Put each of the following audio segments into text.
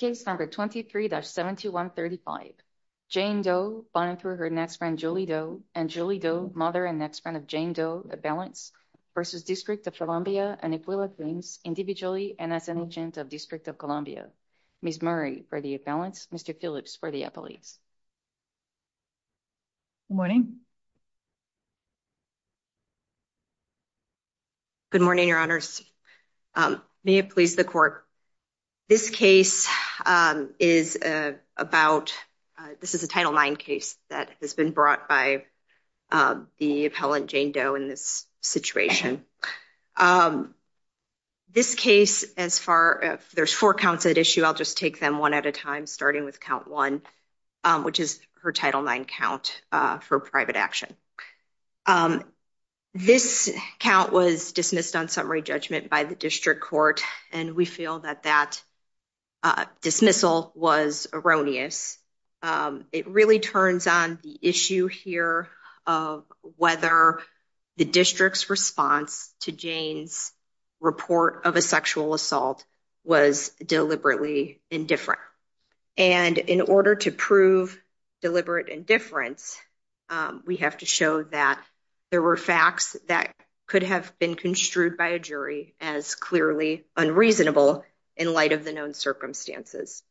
23-72135, Jane Doe v. DC, Ms. Murray for the accounts, Mr. Killick for the appellate. Good morning. Good morning, your honors. May it please the court. This case is about, this is a Title IX case that has been brought by the appellant Jane Doe in this situation. This case, as far, there's four counts at issue. I'll just take them one at a time, starting with count one, which is her Title IX count for private action. This count was dismissed on summary judgment by the district court and we feel that that dismissal was erroneous. It really turns on the issue here of whether the district's response to Jane's report of a sexual assault was deliberately indifferent. And in order to prove deliberate indifference, we have to show that there were facts that could have been construed by a jury as clearly unreasonable in light of the known circumstances.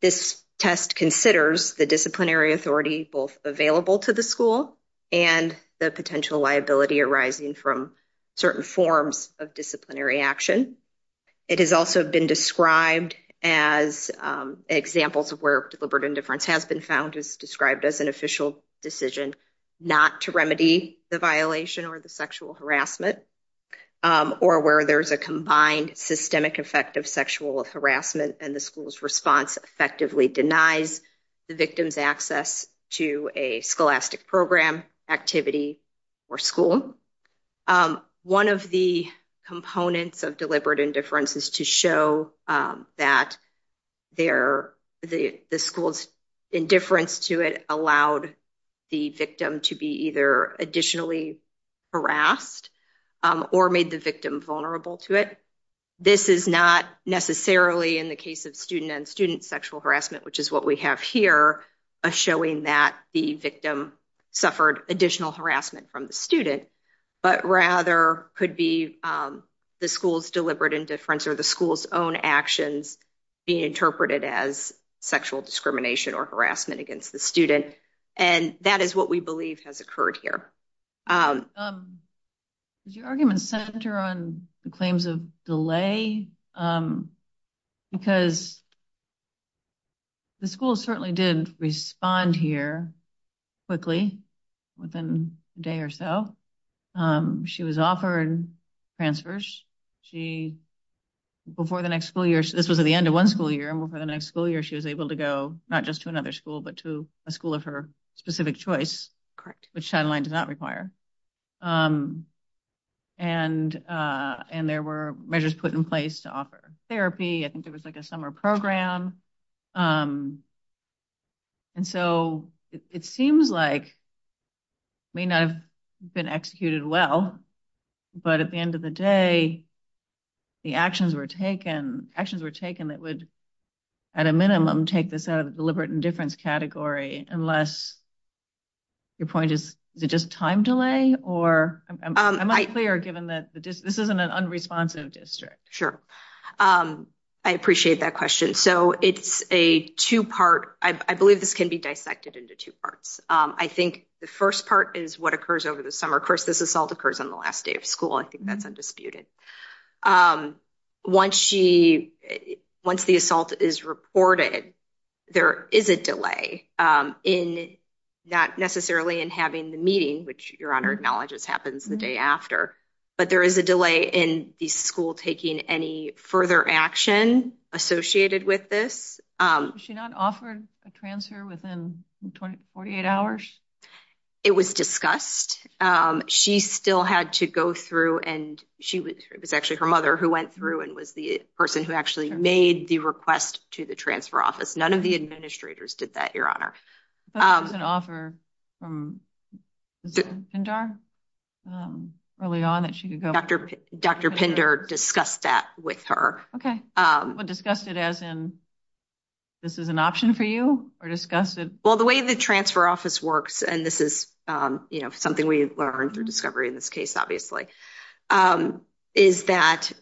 This test considers the disciplinary authority both available to the school and the potential liability arising from certain forms of disciplinary action. It has also been described as examples of where deliberate indifference has been found is described as an official decision not to remedy the violation or the sexual harassment, or where there's a combined systemic effect of sexual harassment and the school's response effectively denies the victim's access to a scholastic program, activity, or school. One of the components of deliberate indifference is to show that the school's indifference to it allowed the victim to be either additionally harassed or made the victim vulnerable to it. This is not necessarily in the case of student and student sexual harassment, which is what we have here, showing that the victim suffered additional harassment from the student, but rather could be the school's deliberate indifference or the school's own actions being interpreted as sexual discrimination or harassment against the student. And that is what we believe has occurred here. Does your argument center on the claims of delay? Because the school certainly did respond here quickly, within a day or so. She was offered transfers. This was at the end of one school year, and before the next school year, she was able to go not just to another school, but to a school of her specific choice, which Shadaline did not require. And there were measures put in place to offer therapy. I think there was like a summer program. And so it seems like it may not have been executed well, but at the end of the day, the actions were taken that would, at a minimum, take this out of deliberate indifference category, unless your point is, is it just time delay? I'm unclear, given that this isn't an unresponsive district. Sure. I appreciate that question. So it's a two-part. I believe this can be dissected into two parts. I think the first part is what occurs over the summer. Of course, this assault occurs on the last day of school. I think that's undisputed. Once the assault is reported, there is a delay, not necessarily in having the meeting, which Your Honor acknowledges happens the day after, but there is a delay in the school taking any further action associated with this. Was she not offered a transfer within 48 hours? It was discussed. She still had to go through, and it was actually her mother who went through and was the person who actually made the request to the transfer office. None of the administrators did that, Your Honor. Was there an offer from Dr. Pinder early on? Dr. Pinder discussed that with her. Okay. But discussed it as in, this is an option for you? Or discussed it? Well, the way the transfer office works, and this is something we learned through discovery in this case, obviously, is that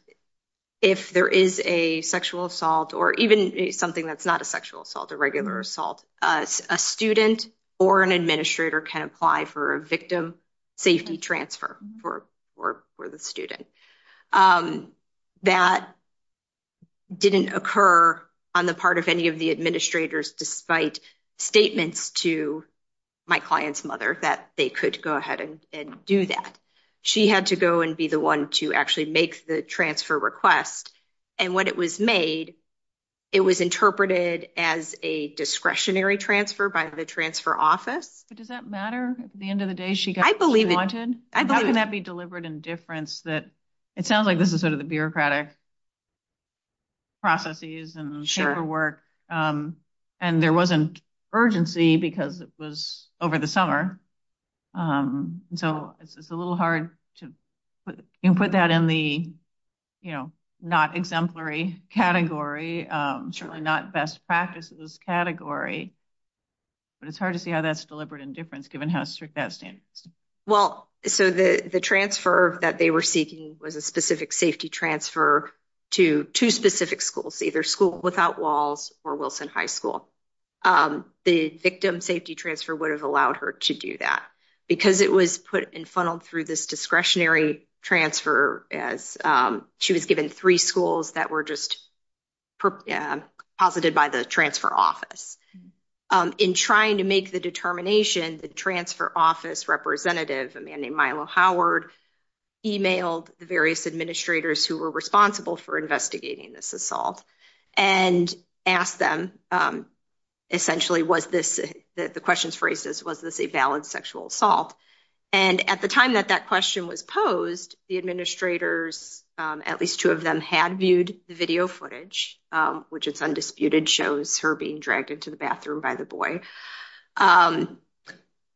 if there is a sexual assault, or even something that's not a sexual assault, a regular assault, a student or an administrator can apply for a victim safety transfer for the student. That didn't occur on the part of any of the administrators, despite statements to my client's mother that they could go ahead and do that. She had to go and be the one to actually make the transfer request, and when it was made, it was interpreted as a discretionary transfer by the transfer office. But does that matter? At the end of the day, she got what she wanted? I believe it. How can that be delivered in difference? It sounds like this is sort of the bureaucratic processes and paperwork, and there wasn't urgency because it was over the summer. So, it's a little hard to put that in the, you know, not exemplary category, certainly not best practices category, but it's hard to see how that's delivered in difference, given how strict that standard is. Well, so the transfer that they were seeking was a specific safety transfer to two specific schools, either school without walls or Wilson High School. The victim safety transfer would have allowed her to do that because it was put and funneled through this discretionary transfer as she was given three schools that were just posited by the transfer office. In trying to make the determination, the transfer office representative, a man named Milo Howard, emailed the various administrators who were responsible for investigating this assault and asked them, essentially, was this, the question's for ACES, was this a valid sexual assault? And at the time that that question was posed, the administrators, at least two of them, had viewed the video footage, which is undisputed, shows her being dragged into the bathroom by the boy,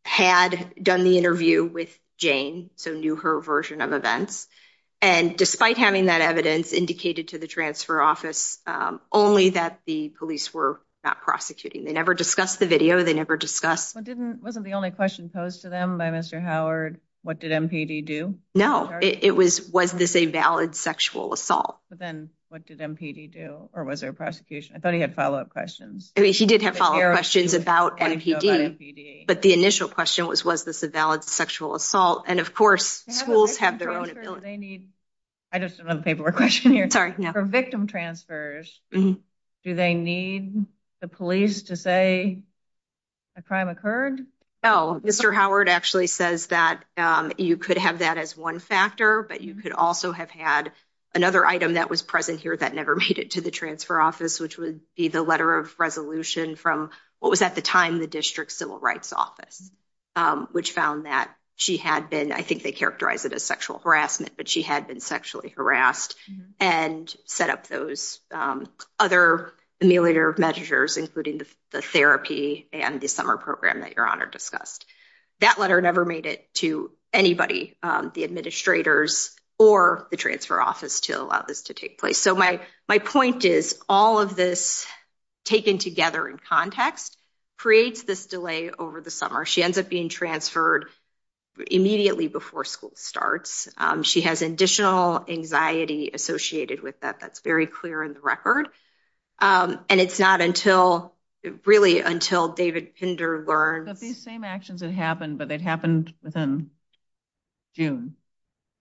had done the interview with Jane, so knew her version of events. And despite having that evidence indicated to the transfer office, only that the police were not prosecuting. They never discussed the video. They never discussed. Wasn't the only question posed to them by Mr. Howard, what did MPD do? No, it was, was this a valid sexual assault? But then what did MPD do or was there a prosecution? I thought he had follow-up questions. He did have follow-up questions about MPD, but the initial question was, was this a valid sexual assault? And of course, schools have their own ability. I just have a paperwork question here. For victim transfers, do they need the police to say the crime occurred? Oh, Mr. Howard actually says that you could have that as one factor, but you could also have had another item that was present here that never made it to the transfer office, which would be the letter of resolution from what was at the time the district civil rights office. Which found that she had been, I think they characterize it as sexual harassment, but she had been sexually harassed and set up those other measures, including the therapy and the summer program that your honor discussed. That letter never made it to anybody, the administrators or the transfer office to allow this to take place. So my, my point is all of this taken together in context creates this delay over the summer. She ends up being transferred immediately before school starts. She has additional anxiety associated with that. That's very clear in the record. And it's not until really until David Kinder learned. But these same actions that happened, but it happened within June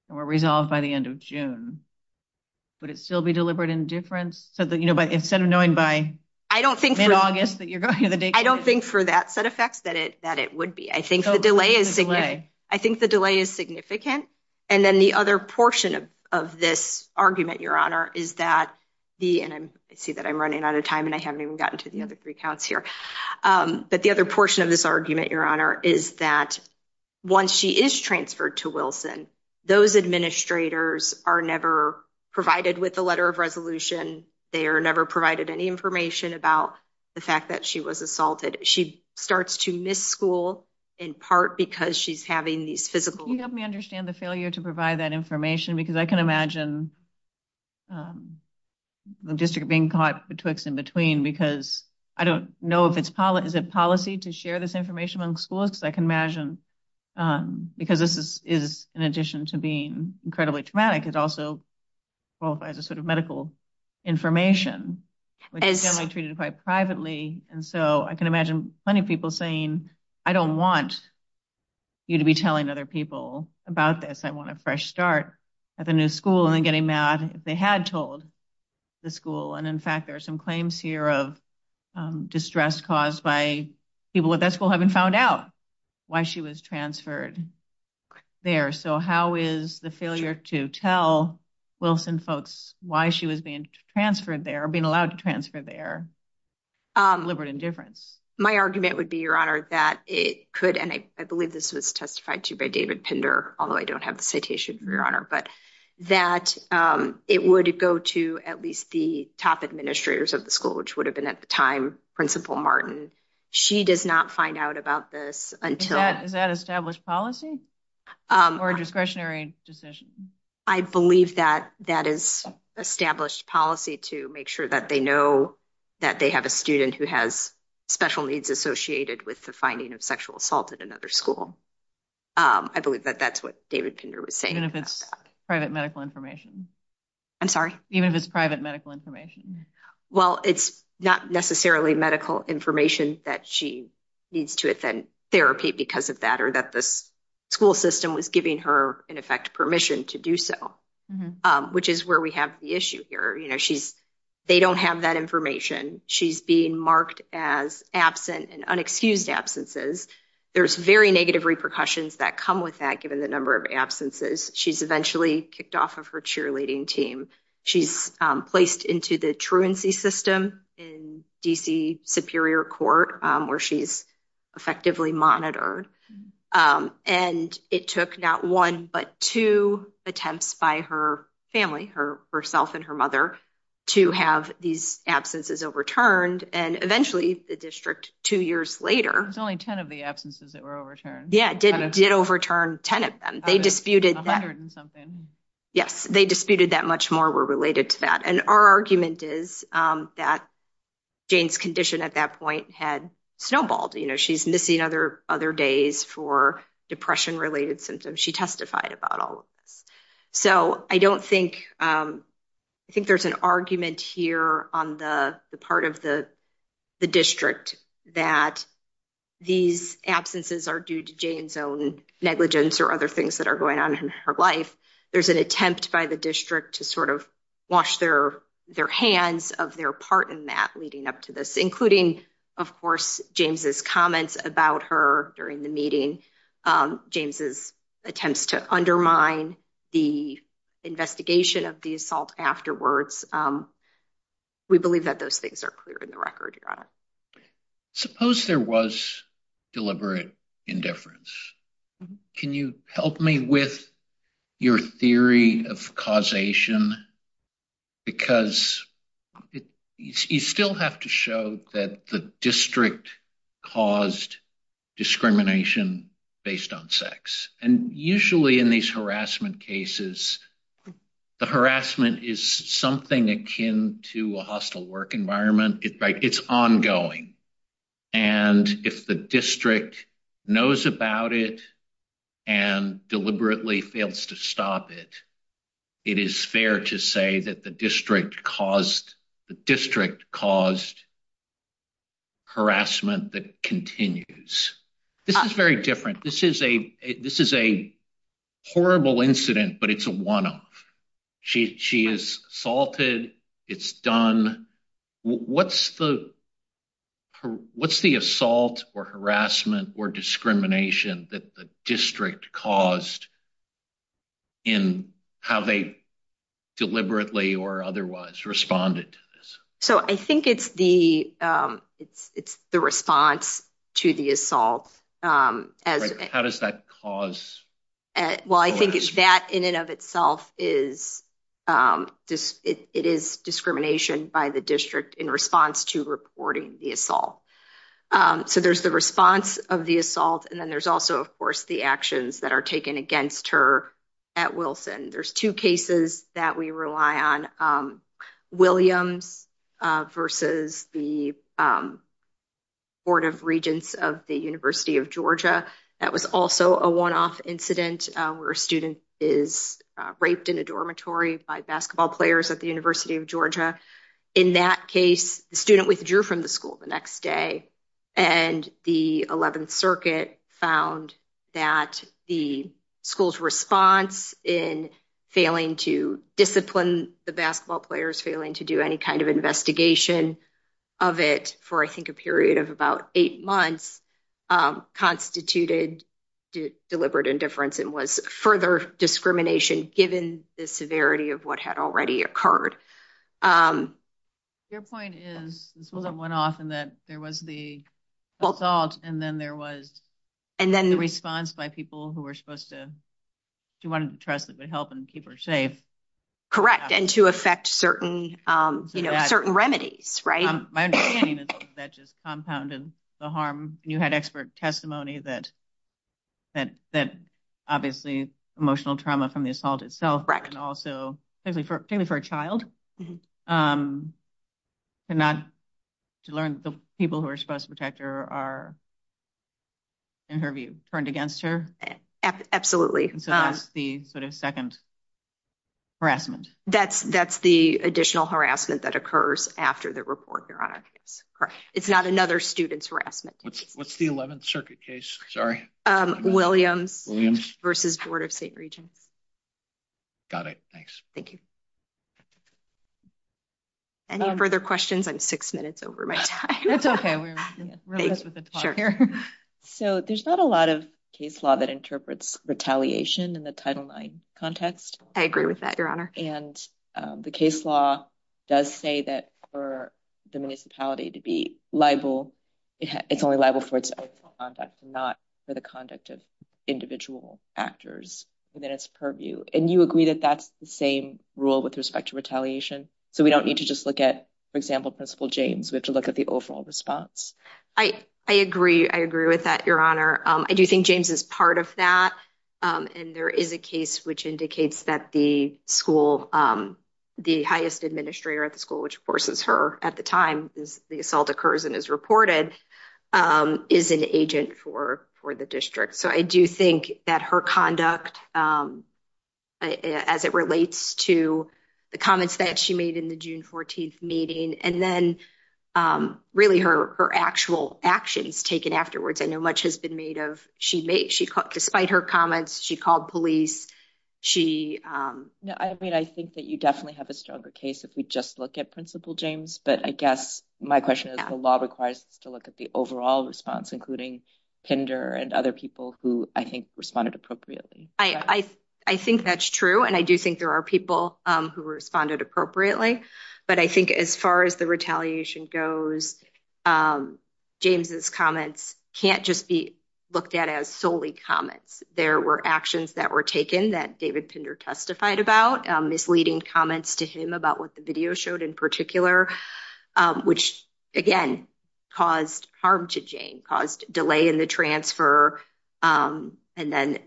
or resolved by the end of June, but it still be deliberate indifference. So, you know, but instead of knowing by, I don't think that you're going to the date. I don't think for that set of facts that it that it would be, I think the delay is, I think the delay is significant. And then the other portion of this argument, your honor, is that the, and I see that I'm running out of time and I haven't even gotten to the other three counts here. But the other portion of this argument, your honor, is that once she is transferred to Wilson, those administrators are never provided with the letter of resolution. They are never provided any information about the fact that she was assaulted. She starts to miss school, in part, because she's having these physical. You help me understand the failure to provide that information because I can imagine. District being caught in between, because I don't know if it's is a policy to share this information on school. It's I can imagine because this is in addition to being incredibly traumatic. It's also both as a sort of medical information, which is generally treated quite privately. And so I can imagine plenty of people saying, I don't want. You to be telling other people about this. I want a fresh start at the new school and getting mad. They had told the school. And in fact, there's some claims here of distress caused by people at that school. Haven't found out why she was transferred there. So, how is the failure to tell Wilson folks why she was being transferred there being allowed to transfer their. Liberate indifference, my argument would be your honor that it could. And I believe this was testified to by David Pender. Although I don't have the citation, your honor, but that it would go to at least the top administrators of the school, which would have been at the time. Principal Martin, she does not find out about this until that established policy or discretionary decision. I believe that that is established policy to make sure that they know that they have a student who has special needs associated with the finding of sexual assault at another school. I believe that that's what David would say private medical information. I'm sorry, even if it's private medical information. Well, it's not necessarily medical information that she needs to attend therapy because of that, or that the school system was giving her in effect permission to do so, which is where we have the issue here. They don't have that information. She's being marked as absent and unexcused absences. There's very negative repercussions that come with that. Given the number of absences she's eventually kicked off of her cheerleading team. She's placed into the truancy system in DC Superior Court where she's effectively monitor and it took not one, but two attempts by her family herself and her mother to have these absences overturned. And eventually the district two years later, there's only 10 of the absences that were overturned. Yeah, it did overturn 10 of them. They disputed. Yes, they disputed that much more were related to that. And our argument is that Jane's condition at that point had snowballed. You know, she's missing other other days for depression related symptoms. She testified about all. So, I don't think I think there's an argument here on the part of the district that these absences are due to Jane's own negligence or other things that are going on in her life. There's an attempt by the district to sort of wash their their hands of their part in that leading up to this, including, of course, James's comments about her during the meeting. James's attempts to undermine the investigation of the assault afterwards. We believe that those things are clear in the record. Suppose there was deliberate indifference. Can you help me with your theory of causation? Because you still have to show that the district caused discrimination based on sex. And usually in these harassment cases, the harassment is something akin to a hostile work environment. It's ongoing. And if the district knows about it and deliberately fails to stop it, it is fair to say that the district caused the district caused harassment that continues. This is very different. This is a this is a horrible incident, but it's a one off. She is assaulted. It's done. What's the what's the assault or harassment or discrimination that the district caused in how they deliberately or otherwise responded? So I think it's the it's the response to the assault. How does that cause? Well, I think it's that in and of itself is this. It is discrimination by the district in response to reporting the assault. So there's the response of the assault. And then there's also, of course, the actions that are taken against her at Wilson. There's two cases that we rely on, William versus the Board of Regents of the University of Georgia. That was also a one off incident where a student is raped in a dormitory by basketball players at the University of Georgia. In that case, the student withdrew from the school the next day and the 11th Circuit found that the school's response in failing to discipline the basketball players, failing to do any kind of investigation of it for, I think, a period of about eight months constituted deliberate indifference and was further discrimination, given the severity of what had already occurred. Your point is that went off and that there was the assault. And then there was and then the response by people who were supposed to want to trust that would help and keep her safe. Correct. And to affect certain certain remedies. Right. That just compounded the harm. You had expert testimony that that that obviously emotional trauma from the assault itself. Right. And also for a child and not to learn the people who are supposed to protect her are turned against her. Absolutely. The second harassment, that's that's the additional harassment that occurs after the report. It's not another student's harassment. What's what's the 11th Circuit case? Sorry. William versus Board of State Regents. Got it. Thanks. Thank you. Any further questions on six minutes over. That's OK. So there's not a lot of case law that interprets retaliation in the title nine context. I agree with that, Your Honor. And the case law does say that for the municipality to be liable, it's only liable for its own conduct, not for the conduct of individual actors within its purview. And you agree that that's the same rule with respect to retaliation. So we don't need to just look at, for example, Principal James, but to look at the overall response. I, I agree. I agree with that, Your Honor. I do think James is part of that. And there is a case which indicates that the school, the highest administrator at the school, which forces her at the time the assault occurs and is reported, is an agent for for the district. So I do think that her conduct, as it relates to the comments that she made in the June 14th meeting, and then really her her actual actions taken afterwards, I know much has been made of. She made she cut despite her comments. She called police. She I mean, I think that you definitely have a stronger case if we just look at Principal James. But I guess my question is, the law requires to look at the overall response, including Pinder and other people who I think responded appropriately. I, I think that's true. And I do think there are people who responded appropriately. But I think as far as the retaliation goes, James's comments can't just be looked at as solely comments. There were actions that were taken that David Pinder testified about misleading comments to him about what the video showed in particular. Which, again, caused harm to Jane, caused delay in the transfer. And then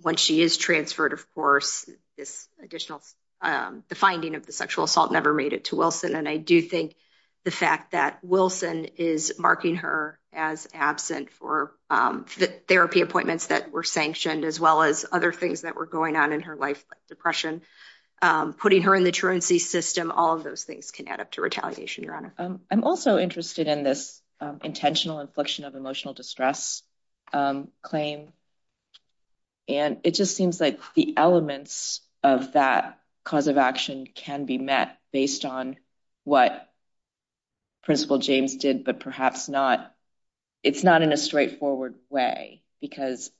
when she is transferred, of course, this additional finding of the sexual assault never made it to Wilson. And I do think the fact that Wilson is marking her as absent for therapy appointments that were sanctioned, as well as other things that were going on in her life, like depression, putting her in the truancy system. All of those things can add up to retaliation, Your Honor. I'm also interested in this intentional infliction of emotional distress claim. And it just seems like the elements of that cause of action can be met based on what Principal James did, but perhaps not. It's not in a straightforward way, because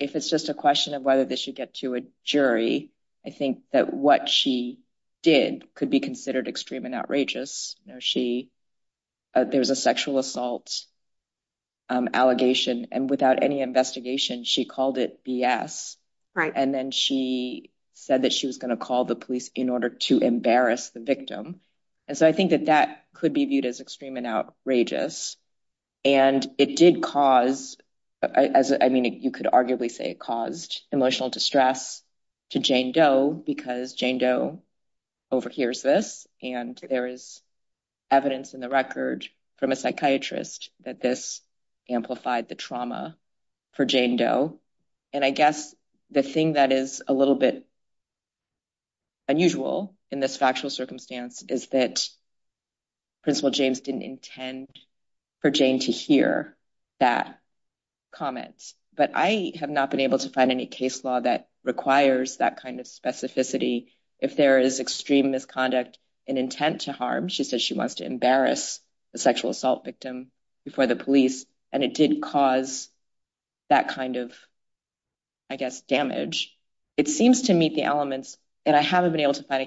if it's just a question of whether this should get to a jury, I think that what she did could be considered extreme and outrageous. There's a sexual assault allegation, and without any investigation, she called it BS. And then she said that she was going to call the police in order to embarrass the victim. And so I think that that could be viewed as extreme and outrageous. And it did cause, I mean, you could arguably say it caused emotional distress to Jane Doe, because Jane Doe overhears this. And there is evidence in the record from a psychiatrist that this amplified the trauma for Jane Doe. And I guess the thing that is a little bit unusual in this factual circumstance is that Principal James didn't intend for Jane to hear that comment. But I have not been able to find any case law that requires that kind of specificity. If there is extreme misconduct and intent to harm, she says she wants to embarrass the sexual assault victim before the police. And it did cause that kind of, I guess, damage. It seems to meet the elements, and I haven't been able to find a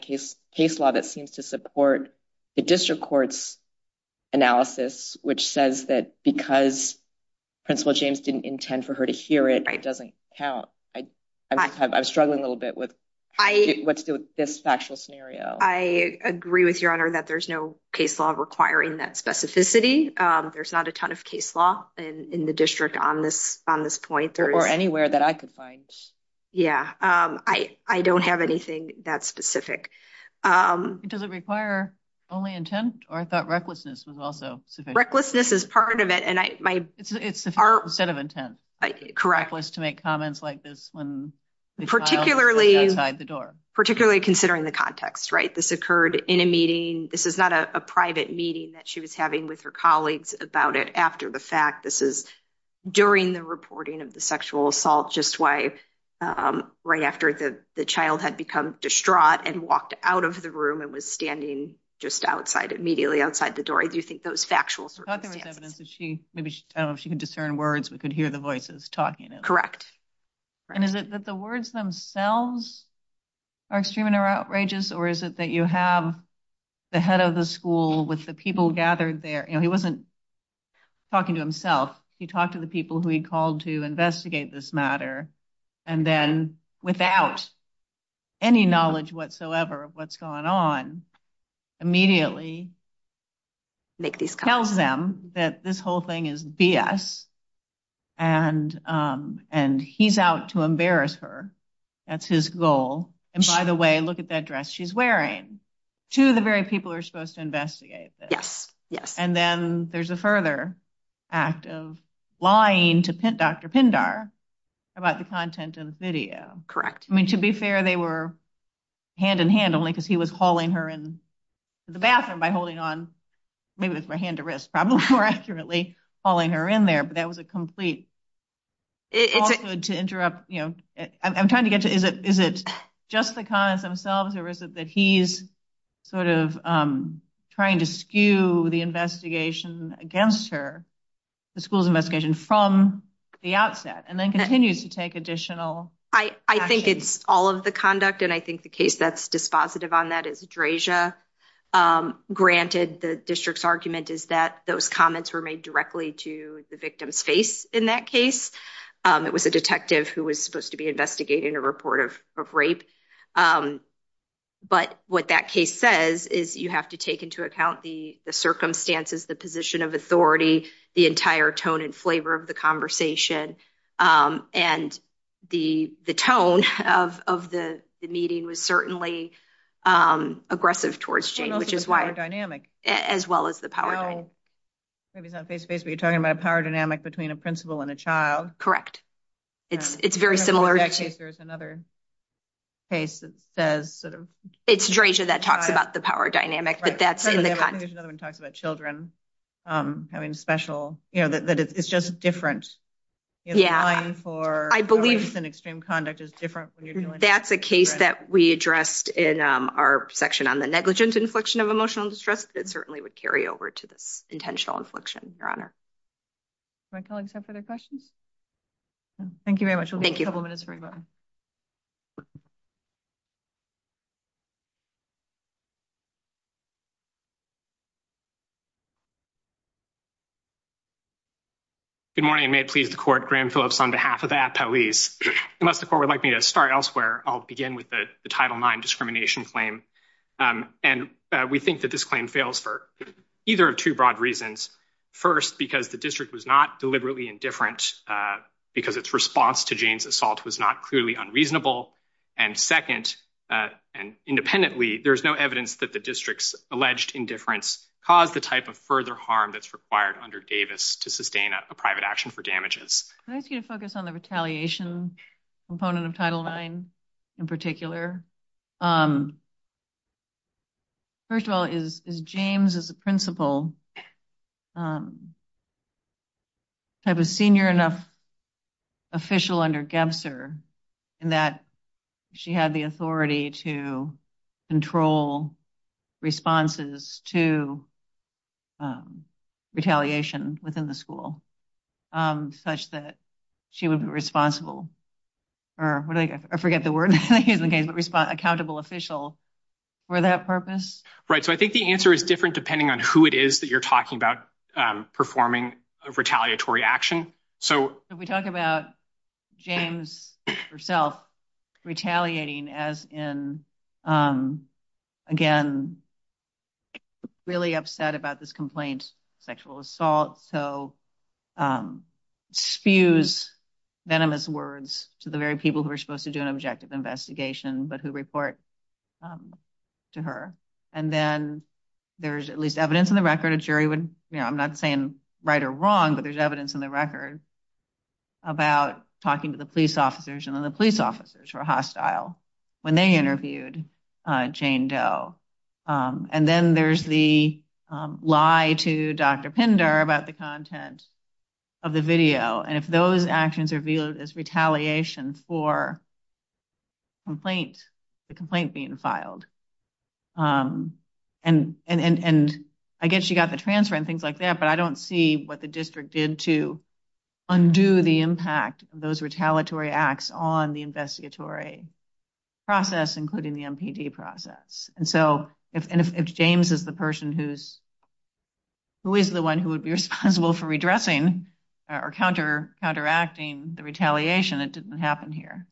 case law that seems to support the district court's analysis, which says that because Principal James didn't intend for her to hear it, it doesn't count. I'm struggling a little bit with this factual scenario. I agree with Your Honor that there's no case law requiring that specificity. There's not a ton of case law in the district on this point. Or anywhere that I could find. Yeah, I don't have anything that specific. Does it require only intent, or I thought recklessness was also sufficient? Recklessness is part of it. It's a set of intents. Correct. Reckless to make comments like this when the child is outside the door. Particularly considering the context, right? This occurred in a meeting. This is not a private meeting that she was having with her colleagues about it after the fact. This is during the reporting of the sexual assault, just right after the child had become distraught and walked out of the room and was standing just immediately outside the door. I do think those factual circumstances. I thought there was evidence that she, I don't know if she could discern words, but could hear the voices talking. Correct. And is it that the words themselves are extremely outrageous? Or is it that you have the head of the school with the people gathered there, and he wasn't talking to himself. He talked to the people who he called to investigate this matter. And then without any knowledge whatsoever of what's going on, immediately tells them that this whole thing is BS. And he's out to embarrass her. That's his goal. And by the way, look at that dress she's wearing. Two of the very people are supposed to investigate this. And then there's a further act of lying to Dr. Pindar about the content of the video. I mean, to be fair, they were hand in hand only because he was hauling her into the bathroom by holding on, maybe with my hand to wrist, probably more accurately, hauling her in there. But that was a complete, also to interrupt, I'm trying to get to, is it just the comments themselves, or is it that he's sort of trying to skew the investigation against her, the school's investigation, from the outset? And then continues to take additional action. I think it's all of the conduct. And I think the case that's dispositive on that is Drasia. Granted, the district's argument is that those comments were made directly to the victim's face in that case. It was a detective who was supposed to be investigating a report of rape. But what that case says is you have to take into account the circumstances, the position of authority, the entire tone and flavor of the conversation. And the tone of the meeting was certainly aggressive towards Jane, which is why, as well as the power dynamic. Well, maybe it's not face-to-face, but you're talking about a power dynamic between a principal and a child. Correct. It's very similar to… In that case, there's another case that says… It's Drasia that talks about the power dynamic, but that's in the context. I think there's another one that talks about children having special… You know, that it's just different. Yeah. Applying for… I believe… …in extreme conduct is different. That's a case that we addressed in our section on the negligence inflection of emotional distress. It certainly would carry over to the intentional inflection, Your Honor. Do my colleagues have further questions? Thank you very much. Thank you. We'll hold a couple minutes for questions. Good morning. May it please the Court. Graham Phillips on behalf of the Attalees. Unless the Court would like me to start elsewhere, I'll begin with the Title IX discrimination claim. And we think that this claim fails for either of two broad reasons. First, because the district was not deliberately indifferent because its response to Jane's assault was not clearly unreasonable. And second, independently, there's no evidence that the district's alleged indifference caused the type of further harm that's required under Davis to sustain a private action for damages. Can I ask you to focus on the retaliation component of Title IX in particular? First of all, is James, as a principal, a senior enough official under Gebser in that she had the authority to control responses to retaliation within the school such that she would be responsible? I forget the word. Accountable official for that purpose? Right. So I think the answer is different depending on who it is that you're talking about performing a retaliatory action. We talk about James herself retaliating as in, again, really upset about this complaint, sexual assault, so spews venomous words to the very people who are supposed to do an objective investigation but who report to her. And then there's at least evidence in the record, a jury would, I'm not saying right or wrong, but there's evidence in the record about talking to the police officers and then the police officers were hostile when they interviewed Jane Doe. And then there's the lie to Dr. Pinder about the content of the video. And if those actions are viewed as retaliation for the complaint being filed. And I guess you got the transfer and things like that, but I don't see what the district did to undo the impact of those retaliatory acts on the investigatory process, including the MPD process. And so if James is the person who is the one who would be responsible for redressing or counteracting the retaliation, it didn't happen here.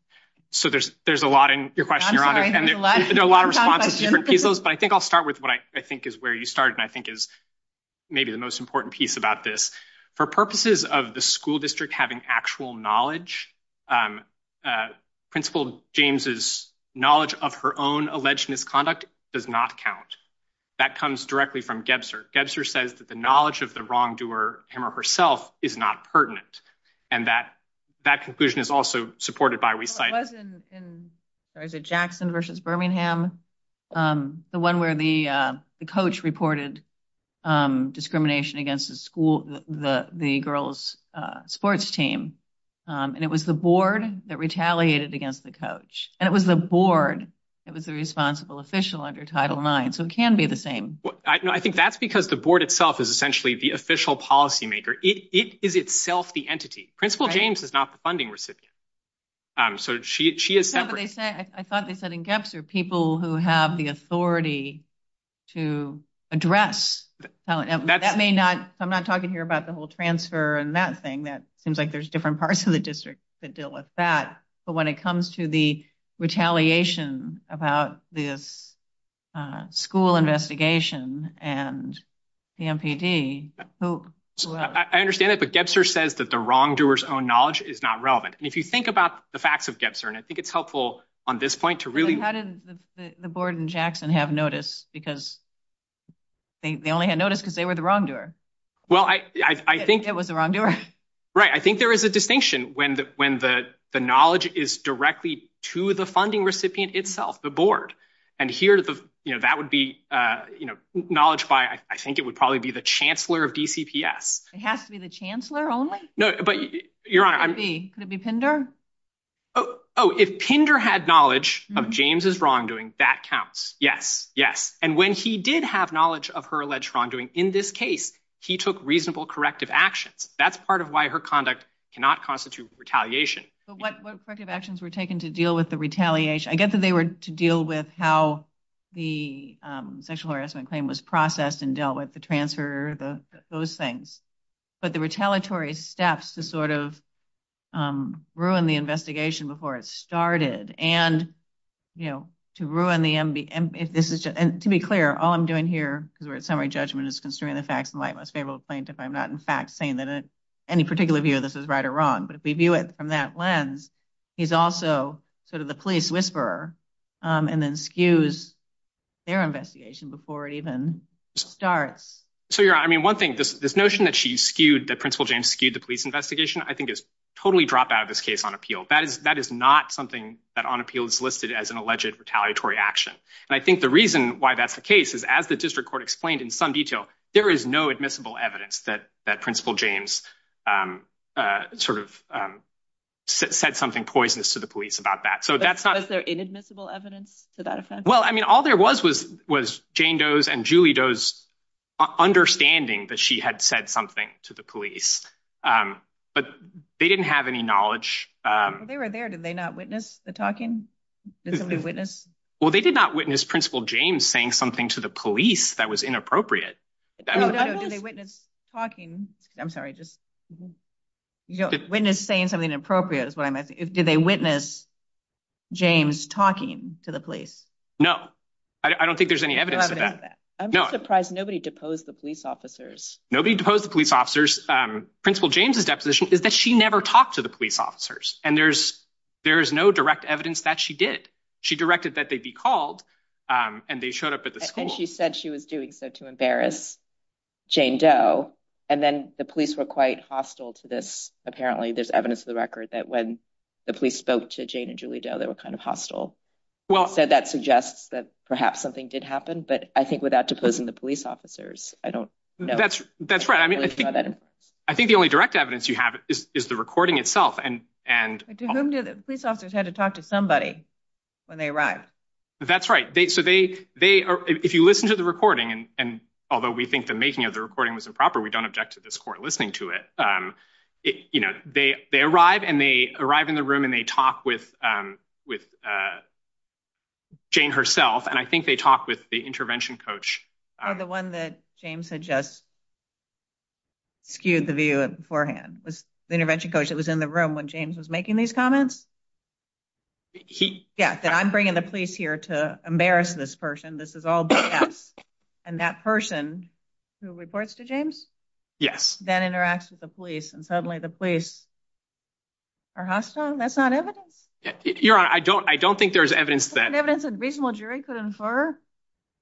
So there's a lot in your question, Your Honor. I'm sorry, there's a lot of different questions. But I think I'll start with what I think is where you started and I think is maybe the most important piece about this. For purposes of the school district having actual knowledge, Principal James's knowledge of her own alleged misconduct does not count. That comes directly from Gebser. Gebser says that the knowledge of the wrongdoer, him or herself, is not pertinent and that that conclusion is also supported by reciting. It was in Jackson versus Birmingham, the one where the coach reported discrimination against the girls' sports team. And it was the board that retaliated against the coach. And it was the board that was the responsible official under Title IX. So it can be the same. I think that's because the board itself is essentially the official policymaker. It is itself the entity. Principal James is not the funding recipient. So she is separate. I thought they said in Gebser people who have the authority to address. I'm not talking here about the whole transfer and that thing. It seems like there's different parts of the district that deal with that. But when it comes to the retaliation about this school investigation and the MPD, who else? I understand that. But Gebser says that the wrongdoer's own knowledge is not relevant. If you think about the facts of Gebser, and I think it's helpful on this point to really. How did the board in Jackson have notice? Because they only had notice because they were the wrongdoer. Well, I think it was the wrongdoer. Right. I think there is a distinction when the knowledge is directly to the funding recipient itself, the board. And here that would be knowledge by I think it would probably be the chancellor of DCPS. It has to be the chancellor only? No, but your honor. Could it be Pinder? Oh, if Pinder had knowledge of James's wrongdoing, that counts. Yes. Yes. And when he did have knowledge of her alleged wrongdoing in this case, he took reasonable corrective actions. That's part of why her conduct cannot constitute retaliation. But what corrective actions were taken to deal with the retaliation? I get that they were to deal with how the sexual harassment claim was processed and dealt with, the transfer, those things. But the retaliatory steps to sort of ruin the investigation before it started and, you know, to ruin the – and to be clear, all I'm doing here because we're at summary judgment is considering the facts in light of what's favorable to the plaintiff. I'm not, in fact, saying that any particular view of this is right or wrong. But if we view it from that lens, he's also sort of the police whisperer and then skews their investigation before it even starts. So, your honor, I mean, one thing, this notion that she skewed, that Principal James skewed the police investigation, I think is totally dropped out of this case on appeal. That is not something that on appeal is listed as an alleged retaliatory action. And I think the reason why that's the case is as the district court explained in some detail, there is no admissible evidence that Principal James sort of said something poisonous to the police about that. So that's not – Was there inadmissible evidence to that effect? Well, I mean, all there was was Jane Doe's and Julie Doe's understanding that she had said something to the police. But they didn't have any knowledge. Well, they were there. Did they not witness the talking? Did somebody witness? Well, they did not witness Principal James saying something to the police that was inappropriate. Did they witness talking – I'm sorry, just witness saying something inappropriate is what I meant. Did they witness James talking to the police? No. I don't think there's any evidence of that. I'm surprised nobody deposed the police officers. Nobody deposed the police officers. Principal James' deposition is that she never talked to the police officers. And there's no direct evidence that she did. She directed that they be called, and they showed up at the school. And then she said she was doing so to embarrass Jane Doe. And then the police were quite hostile to this. Apparently, there's evidence in the record that when the police spoke to Jane and Julie Doe, they were kind of hostile. Well – So that suggests that perhaps something did happen. But I think without deposing the police officers, I don't know. That's right. I think the only direct evidence you have is the recording itself. The police officers had to talk to somebody when they arrived. That's right. If you listen to the recording, and although we think the making of the recording was improper, we don't object to this court listening to it. They arrive, and they arrive in the room, and they talk with Jane herself. And I think they talk with the intervention coach. Or the one that James had just skewed the view beforehand. The intervention coach that was in the room when James was making these comments? He – Yes, that I'm bringing the police here to embarrass this person. This is all BS. And that person who reports to James? Yes. Then interacts with the police, and suddenly the police are hostile? That's not evidence? Your Honor, I don't think there's evidence that – Is there evidence that a reasonable jury could infer?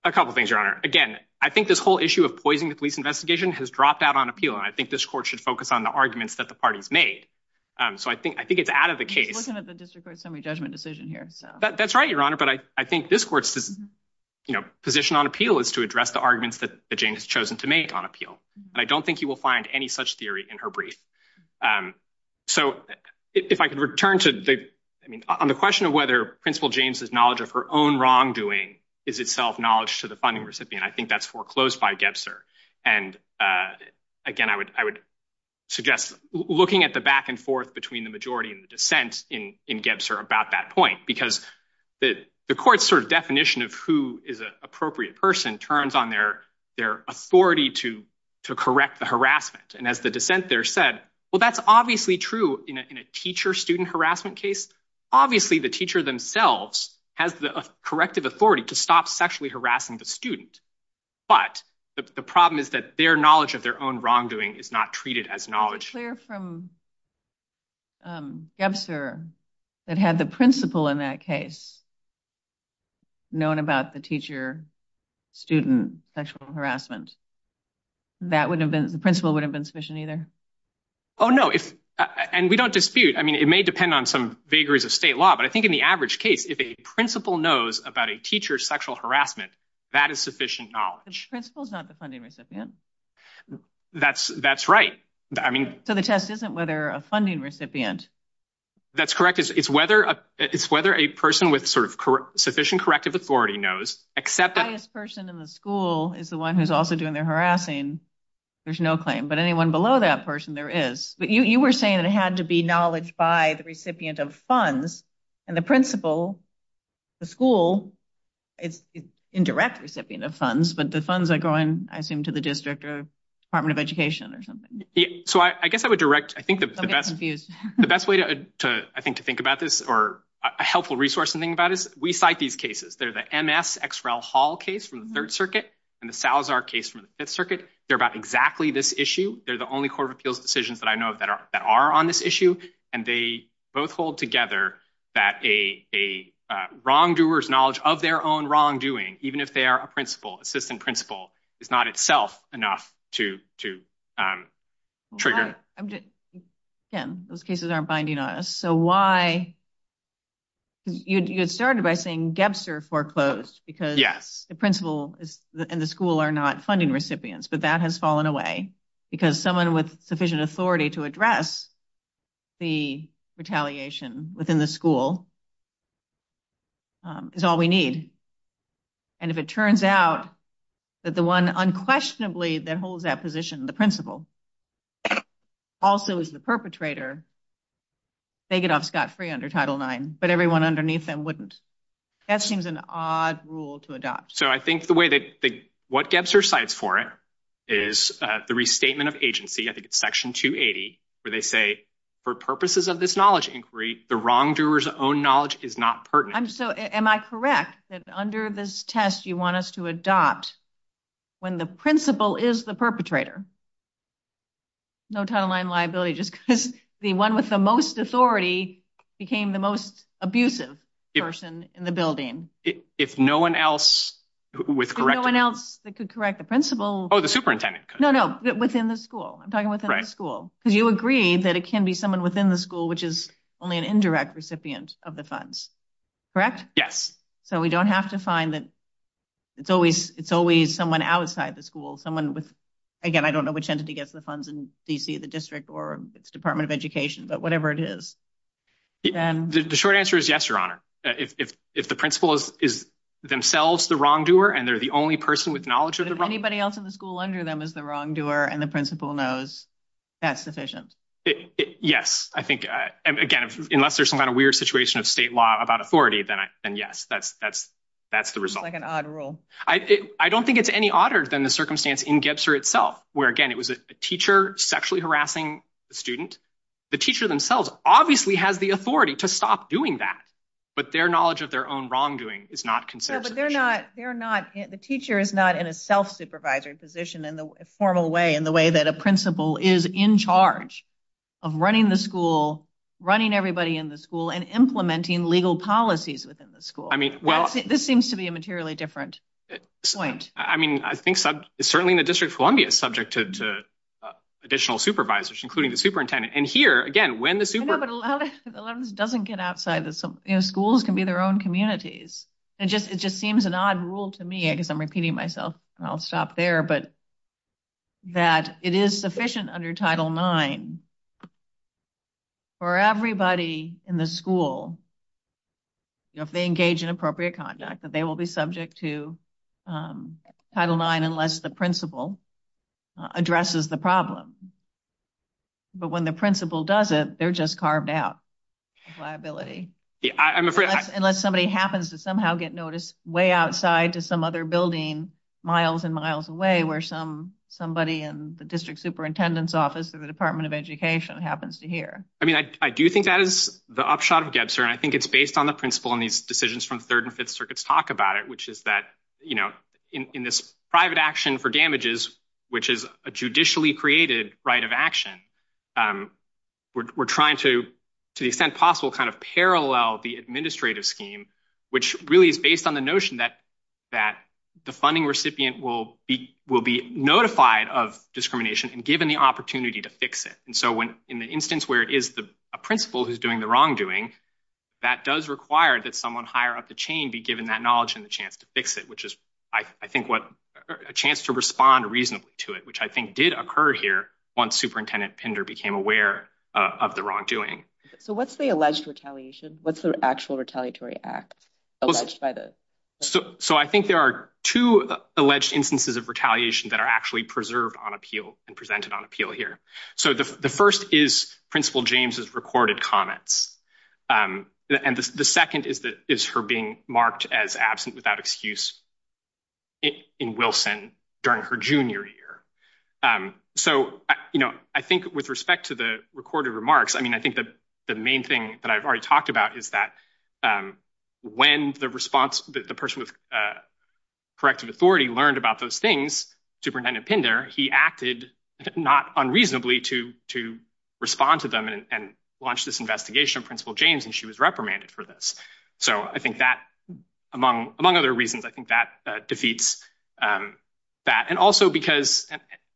A couple things, Your Honor. Again, I think this whole issue of poisoning the police investigation has dropped out on appeal. And I think this court should focus on the arguments that the parties made. So I think it's out of the case. We're looking at the district court's semi-judgment decision here. That's right, Your Honor. But I think this court's position on appeal is to address the arguments that James has chosen to make on appeal. But I don't think you will find any such theory in her brief. So if I could return to the – I mean, on the question of whether Principal James' knowledge of her own wrongdoing is itself knowledge to the funding recipient, I think that's foreclosed by Gebser. And, again, I would suggest looking at the back and forth between the majority and the dissent in Gebser about that point. Because the court's sort of definition of who is an appropriate person turns on their authority to correct the harassment. And as the dissent there said, well, that's obviously true in a teacher-student harassment case. Obviously, the teacher themselves has the corrective authority to stop sexually harassing the student. But the problem is that their knowledge of their own wrongdoing is not treated as knowledge. Is it clear from Gebser that had the principal in that case known about the teacher-student sexual harassment, the principal wouldn't have been sufficient either? Oh, no. And we don't dispute. I mean, it may depend on some vagaries of state law. But I think in the average case, if a principal knows about a teacher's sexual harassment, that is sufficient knowledge. But your principal is not the funding recipient. That's right. So the test isn't whether a funding recipient. That's correct. It's whether a person with sort of sufficient corrective authority knows. The highest person in the school is the one who's also doing their harassing. There's no claim. But anyone below that person there is. But you were saying it had to be knowledge by the recipient of funds. And the principal, the school, is indirect recipient of funds. But the funds are going, I assume, to the district or Department of Education or something. So I guess I would direct. I think the best way to think about this or a helpful resource to think about this, we cite these cases. There's an MS-XREL-Hall case from the Third Circuit and the Salazar case from the Fifth Circuit. They're about exactly this issue. They're the only corporate appeals decisions that I know of that are on this issue. And they both hold together that a wrongdoer's knowledge of their own wrongdoing, even if they are a principal, assistant principal, is not itself enough to trigger. Tim, those cases aren't binding on us. So why? You started by saying Gebster foreclosed because the principal and the school are not funding recipients. But that has fallen away because someone with sufficient authority to address the retaliation within the school is all we need. And if it turns out that the one unquestionably that holds that position, the principal, also is the perpetrator, they get off scot-free under Title IX, but everyone underneath them wouldn't. That seems an odd rule to adopt. So I think the way that – what Gebster cites for it is the restatement of agency. I think it's Section 280 where they say, for purposes of this knowledge inquiry, the wrongdoer's own knowledge is not pertinent. Am I correct that under this test you want us to adopt when the principal is the perpetrator? No Title IX liability just because the one with the most authority became the most abusive person in the building. If no one else was – If no one else could correct the principal – Oh, the superintendent could. No, no, within the school. I'm talking within the school. Right. Because you agree that it can be someone within the school which is only an indirect recipient of the funds. Correct? Yes. So we don't have to find that it's always someone outside the school, someone with – again, I don't know which entity gets the funds in D.C., the district, or it's Department of Education, but whatever it is. The short answer is yes, Your Honor. If the principal is themselves the wrongdoer and they're the only person with knowledge of the – If anybody else in the school under them is the wrongdoer and the principal knows, that's sufficient. Yes. I think, again, unless there's some kind of weird situation of state law about authority, then yes, that's the result. It's like an odd rule. I don't think it's any odder than the circumstance in Gebser itself where, again, it was a teacher sexually harassing a student. The teacher themselves obviously have the authority to stop doing that, but their knowledge of their own wrongdoing is not considered sufficient. No, but they're not – the teacher is not in a self-supervisory position in the formal way, in the way that a principal is in charge of running the school, running everybody in the school, and implementing legal policies within the school. This seems to be a materially different point. I mean, I think certainly in the District of Columbia it's subject to additional supervisors, including the superintendent, and here, again, when the superintendent – No, but a lot of this doesn't get outside the – schools can be their own communities. It just seems an odd rule to me. I guess I'm repeating myself, and I'll stop there. But that it is sufficient under Title IX for everybody in the school, if they engage in appropriate conduct, that they will be subject to Title IX unless the principal addresses the problem. But when the principal does it, they're just carved out of liability. Unless somebody happens to somehow get noticed way outside to some other building miles and miles away where somebody in the district superintendent's office or the Department of Education happens to hear. I mean, I do think that is the upshot of Gebser, and I think it's based on the principle in these decisions from the Third and Fifth Circuits talk about it, which is that in this private action for damages, which is a judicially created right of action, we're trying to, to the extent possible, kind of parallel the administrative scheme, which really is based on the notion that the funding recipient will be notified of discrimination and given the opportunity to fix it. And so in the instance where it is a principal who's doing the wrongdoing, that does require that someone higher up the chain be given that knowledge and the chance to fix it, which is, I think, a chance to respond reasonably to it, which I think did occur here once Superintendent Pinder became aware of the wrongdoing. So what's the alleged retaliation? What's the actual retaliatory act alleged by this? So I think there are two alleged instances of retaliation that are actually preserved on appeal and presented on appeal here. So the first is Principal James's recorded comments. And the second is her being marked as absent without excuse in Wilson during her junior year. So, you know, I think with respect to the recorded remarks, I mean, I think that the main thing that I've already talked about is that when the response, the person with corrective authority learned about those things to Superintendent Pinder, he acted not unreasonably to respond to them and launch this investigation of Principal James and she was reprimanded for this. So I think that, among other reasons, I think that defeats that. And also because,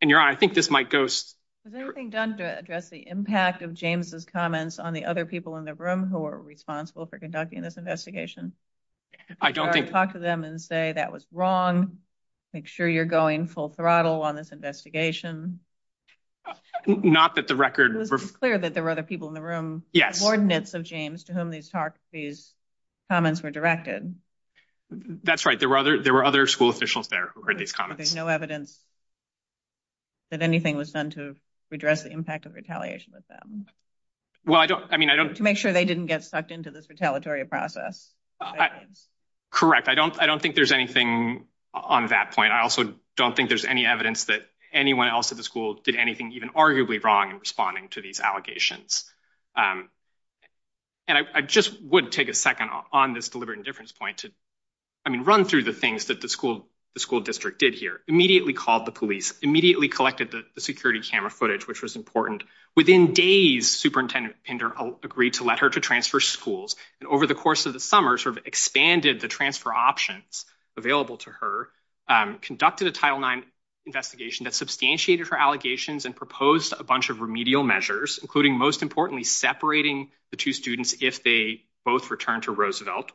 and you're right, I think this might go. Has anything been done to address the impact of James's comments on the other people in the room who are responsible for conducting this investigation? I don't talk to them and say that was wrong. Make sure you're going full throttle on this investigation. Not that the record was clear that there were other people in the room. Yes. Coordinates of James to whom these talk. These comments were directed. That's right. There were other there were other school officials there. There's no evidence that anything was done to redress the impact of retaliation with them. Well, I don't I mean, I don't make sure they didn't get sucked into this retaliatory process. Correct. I don't I don't think there's anything on that point. I also don't think there's any evidence that anyone else at the school did anything even arguably wrong responding to these allegations. And I just would take a second on this deliberate indifference point. I mean, run through the things that the school, the school district did here immediately called the police, immediately collected the security camera footage, which was important. Within days, Superintendent Pender agreed to let her to transfer schools. And over the course of the summer, sort of expanded the transfer options available to her, conducted a Title nine investigation that substantiated her allegations and proposed a bunch of remedial measures, including most importantly, separating the two students if they both return to Roosevelt.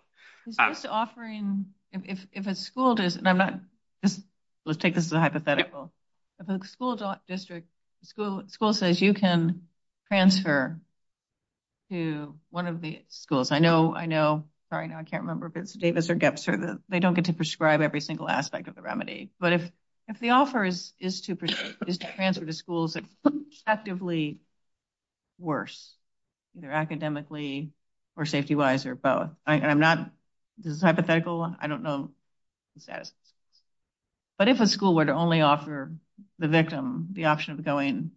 Offering if a school does, let's take this hypothetical school district school school says you can transfer to one of the schools. I know. I know. Sorry, I can't remember if it's Davis or Dexter. They don't get to prescribe every single aspect of the remedy. But if the offer is to transfer to schools that actively worse academically or safety wise or both. I'm not hypothetical. I don't know that. But if a school were to only offer the victim the option of going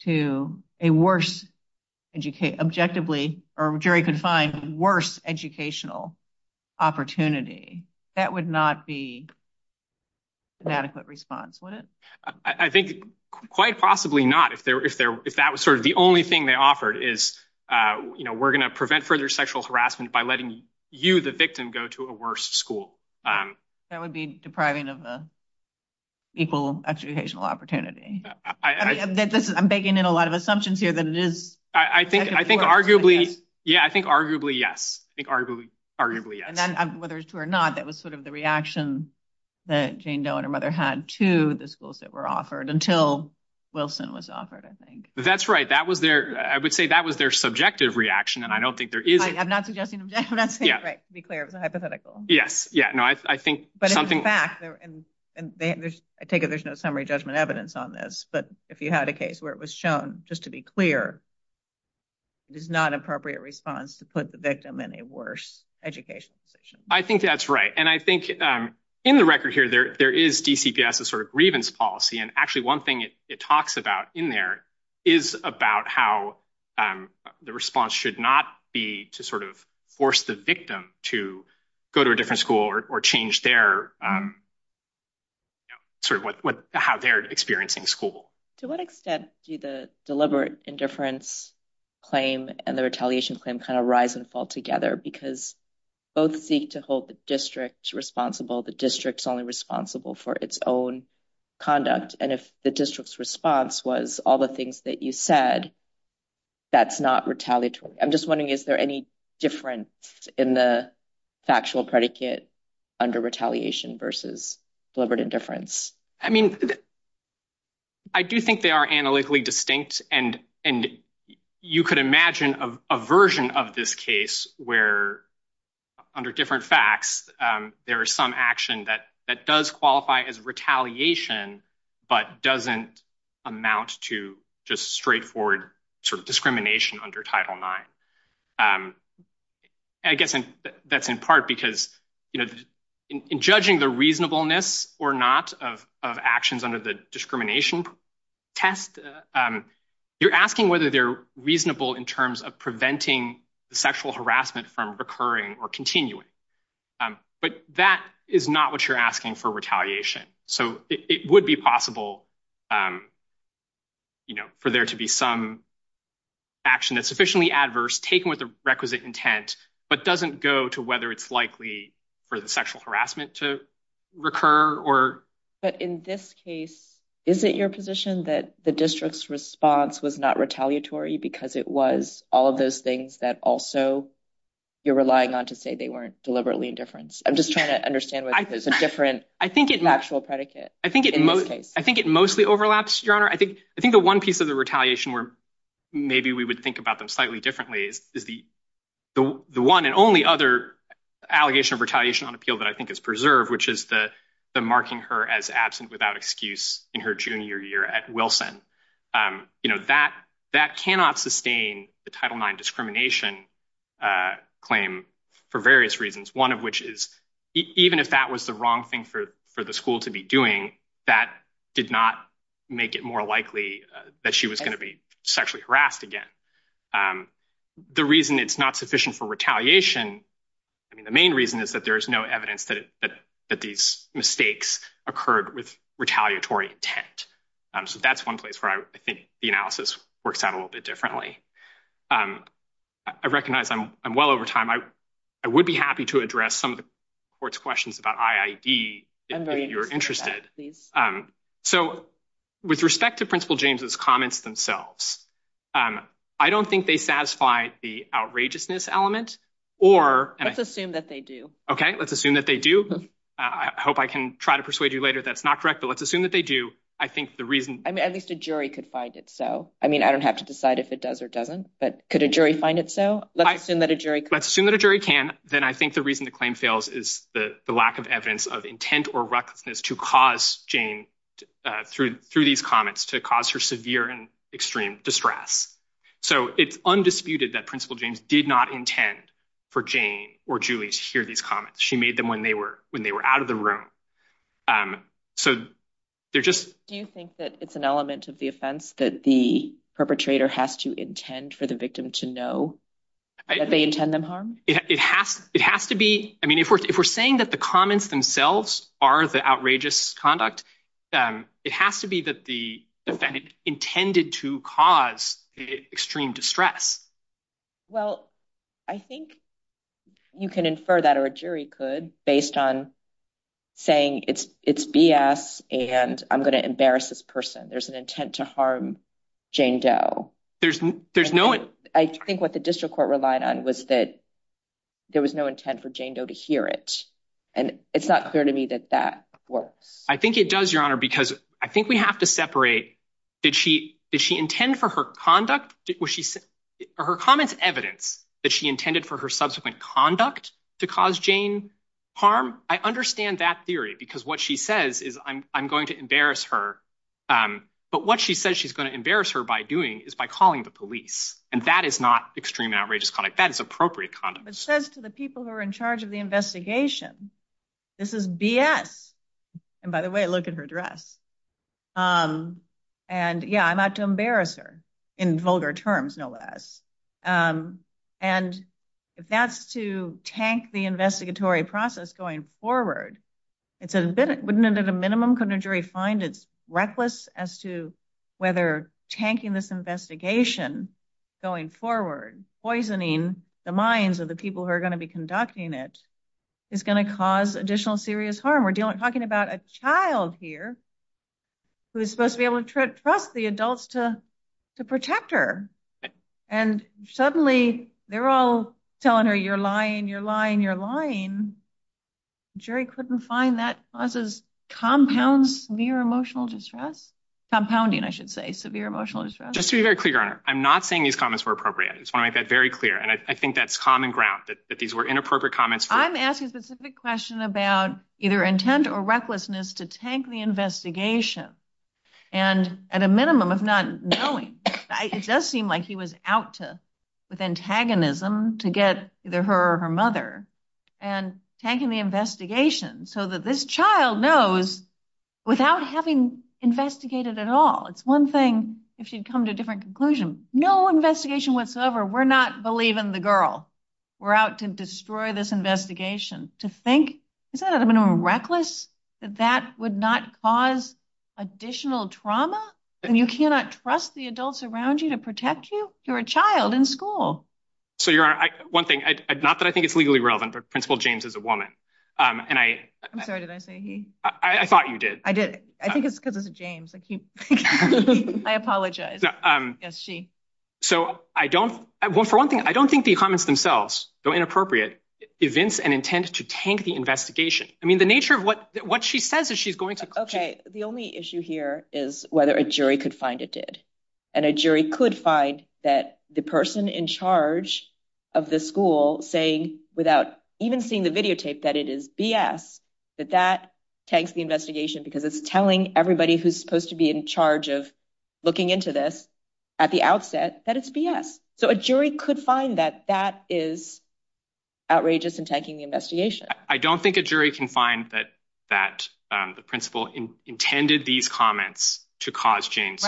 to a worse educate objectively or Jerry could find worse educational opportunity. That would not be an adequate response. I think quite possibly not. If that was sort of the only thing they offered is, you know, we're going to prevent further sexual harassment by letting you, the victim, go to a worse school. That would be depriving of the equal educational opportunity. I'm digging in a lot of assumptions here that I think I think arguably. Yeah, I think arguably. Yes, I think arguably. And then whether it's true or not, that was sort of the reaction that Jane Doe and her mother had to the schools that were offered until Wilson was offered. I think that's right. That was there. I would say that was their subjective reaction. And I don't think they're either. I'm not suggesting. Yeah, right. Be clear. It's a hypothetical. Yes. Yeah. No, I think. But in fact, and I take it there's no summary judgment evidence on this. But if you had a case where it was shown, just to be clear. It is not appropriate response to put the victim in a worse education. I think that's right. And I think in the record here, there there is a sort of grievance policy. And actually one thing it talks about in there is about how the response should not be to sort of force the victim to go to a different school or change their. Sort of what how they're experiencing school. To what extent do the deliberate indifference claim and the retaliation claim kind of rise and fall together? Because both seek to hold the district responsible. The district's only responsible for its own conduct. And if the district's response was all the things that you said. That's not retaliatory. I'm just wondering, is there any difference in the factual predicate under retaliation versus deliberate indifference? I mean, I do think they are analytically distinct and and you could imagine a version of this case where under different facts, there are some action that that does qualify as retaliation, but doesn't amount to just straightforward discrimination under title nine. I guess that's in part because, you know, in judging the reasonableness or not of actions under the discrimination test, you're asking whether they're reasonable in terms of preventing sexual harassment from occurring or continuing. But that is not what you're asking for retaliation. So it would be possible for there to be some action that's sufficiently adverse taken with the requisite intent, but doesn't go to whether it's likely for the sexual harassment to recur or. But in this case, is it your position that the district's response was not retaliatory because it was all of those things that also you're relying on to say they weren't deliberately indifference? I'm just trying to understand what is a different factual predicate. I think it mostly overlaps. I think the one piece of the retaliation where maybe we would think about them slightly differently is the one and only other allegation of retaliation on appeal that I think is preserved, which is the marking her as absent without excuse in her junior year at Wilson. You know, that cannot sustain the Title IX discrimination claim for various reasons, one of which is even if that was the wrong thing for the school to be doing, that did not make it more likely that she was going to be sexually harassed again. The reason it's not sufficient for retaliation, I mean, the main reason is that there is no evidence that these mistakes occurred with retaliatory intent. So that's one place where I think the analysis works out a little bit differently. I recognize I'm well over time. I would be happy to address some of the court's questions about IID if you're interested. So with respect to Principal James's comments themselves, I don't think they satisfy the outrageousness element. Let's assume that they do. Okay, let's assume that they do. I hope I can try to persuade you later that's not correct, but let's assume that they do. At least a jury could find it so. I mean, I don't have to decide if it does or doesn't, but could a jury find it so? Let's assume that a jury can. Let's assume that a jury can. Then I think the reason the claim fails is the lack of evidence of intent or recklessness to cause Jane, through these comments, to cause her severe and extreme distress. So it's undisputed that Principal James did not intend for Jane or Julie to hear these comments. She made them when they were out of the room. Do you think that it's an element of the offense that the perpetrator has to intend for the victim to know that they intend them harm? It has to be. I mean, if we're saying that the comments themselves are the outrageous conduct, it has to be that the defendant intended to cause extreme distress. Well, I think you can infer that or a jury could based on saying it's BS and I'm going to embarrass this person. There's an intent to harm Jane Doe. I think what the district court relied on was that there was no intent for Jane Doe to hear it. And it's not clear to me that that works. I think it does, Your Honor, because I think we have to separate. Did she intend for her conduct? Was her comments evidence that she intended for her subsequent conduct to cause Jane harm? I understand that theory because what she says is I'm going to embarrass her. But what she says she's going to embarrass her by doing is by calling the police. And that is not extreme outrageous conduct. That is appropriate conduct. But she says to the people who are in charge of the investigation, this is BS. And by the way, look at her dress. And yeah, I'm not going to embarrass her in vulgar terms, no less. And if that's to tank the investigatory process going forward, wouldn't it at a minimum, couldn't a jury find it reckless as to whether tanking this investigation going forward, poisoning the minds of the people who are going to be conducting it, is going to cause additional serious harm? We're talking about a child here who is supposed to be able to trust the adults to protect her. And suddenly they're all telling her, you're lying, you're lying, you're lying. Jerry couldn't find that causes compounds near emotional distress, compounding, I should say, severe emotional distress. Just to be very clear, Your Honor, I'm not saying these comments were appropriate. I just want to make that very clear. And I think that's common ground that these were inappropriate comments. I'm asking a specific question about either intent or recklessness to tank the investigation. And at a minimum of not knowing. It does seem like he was out with antagonism to get either her or her mother. And tanking the investigation so that this child knows without having investigated at all. It's one thing if she'd come to a different conclusion. No investigation whatsoever. We're not believing the girl. We're out to destroy this investigation. To think, is that at a minimum reckless? That that would not cause additional trauma? And you cannot trust the adults around you to protect you? You're a child in school. So, Your Honor, one thing, not that I think it's legally relevant, but Principal James is a woman. I'm sorry, did I say he? I thought you did. I did. I think it's because it's James. I apologize. Yes, she. So, I don't, well, for one thing, I don't think the comments themselves, though inappropriate, evince an intent to tank the investigation. I mean, the nature of what she says is she's going to. Okay, the only issue here is whether a jury could find it did and a jury could find that the person in charge of the school say, without even seeing the videotape that it is. That that takes the investigation, because it's telling everybody who's supposed to be in charge of looking into this at the outset. That is. So a jury could find that that is. Outrageous and taking the investigation. I don't think a jury can find that that the principal intended these comments to cause James.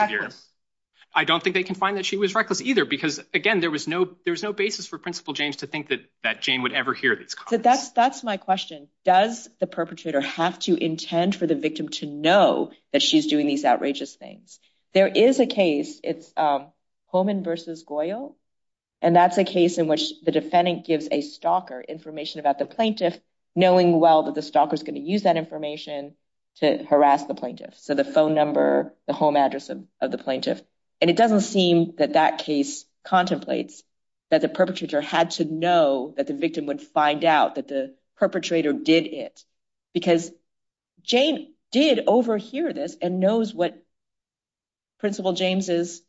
I don't think they can find that she was reckless either because again, there was no, there's no basis for principal James to think that that Jane would ever hear that. That's that's my question. Does the perpetrator have to intend for the victim to know that she's doing these outrageous things. There is a case. It's homing versus Goyle. And that's a case in which the defendant gives a stalker information about the plaintiff knowing well that the stalker is going to use that information to harass the plaintiff. So the phone number, the home address of the plaintiff. And it doesn't seem that that case contemplates that the perpetrator had to know that the victim would find out that the perpetrator did it because Jane did overhear this and knows what. Principal James is.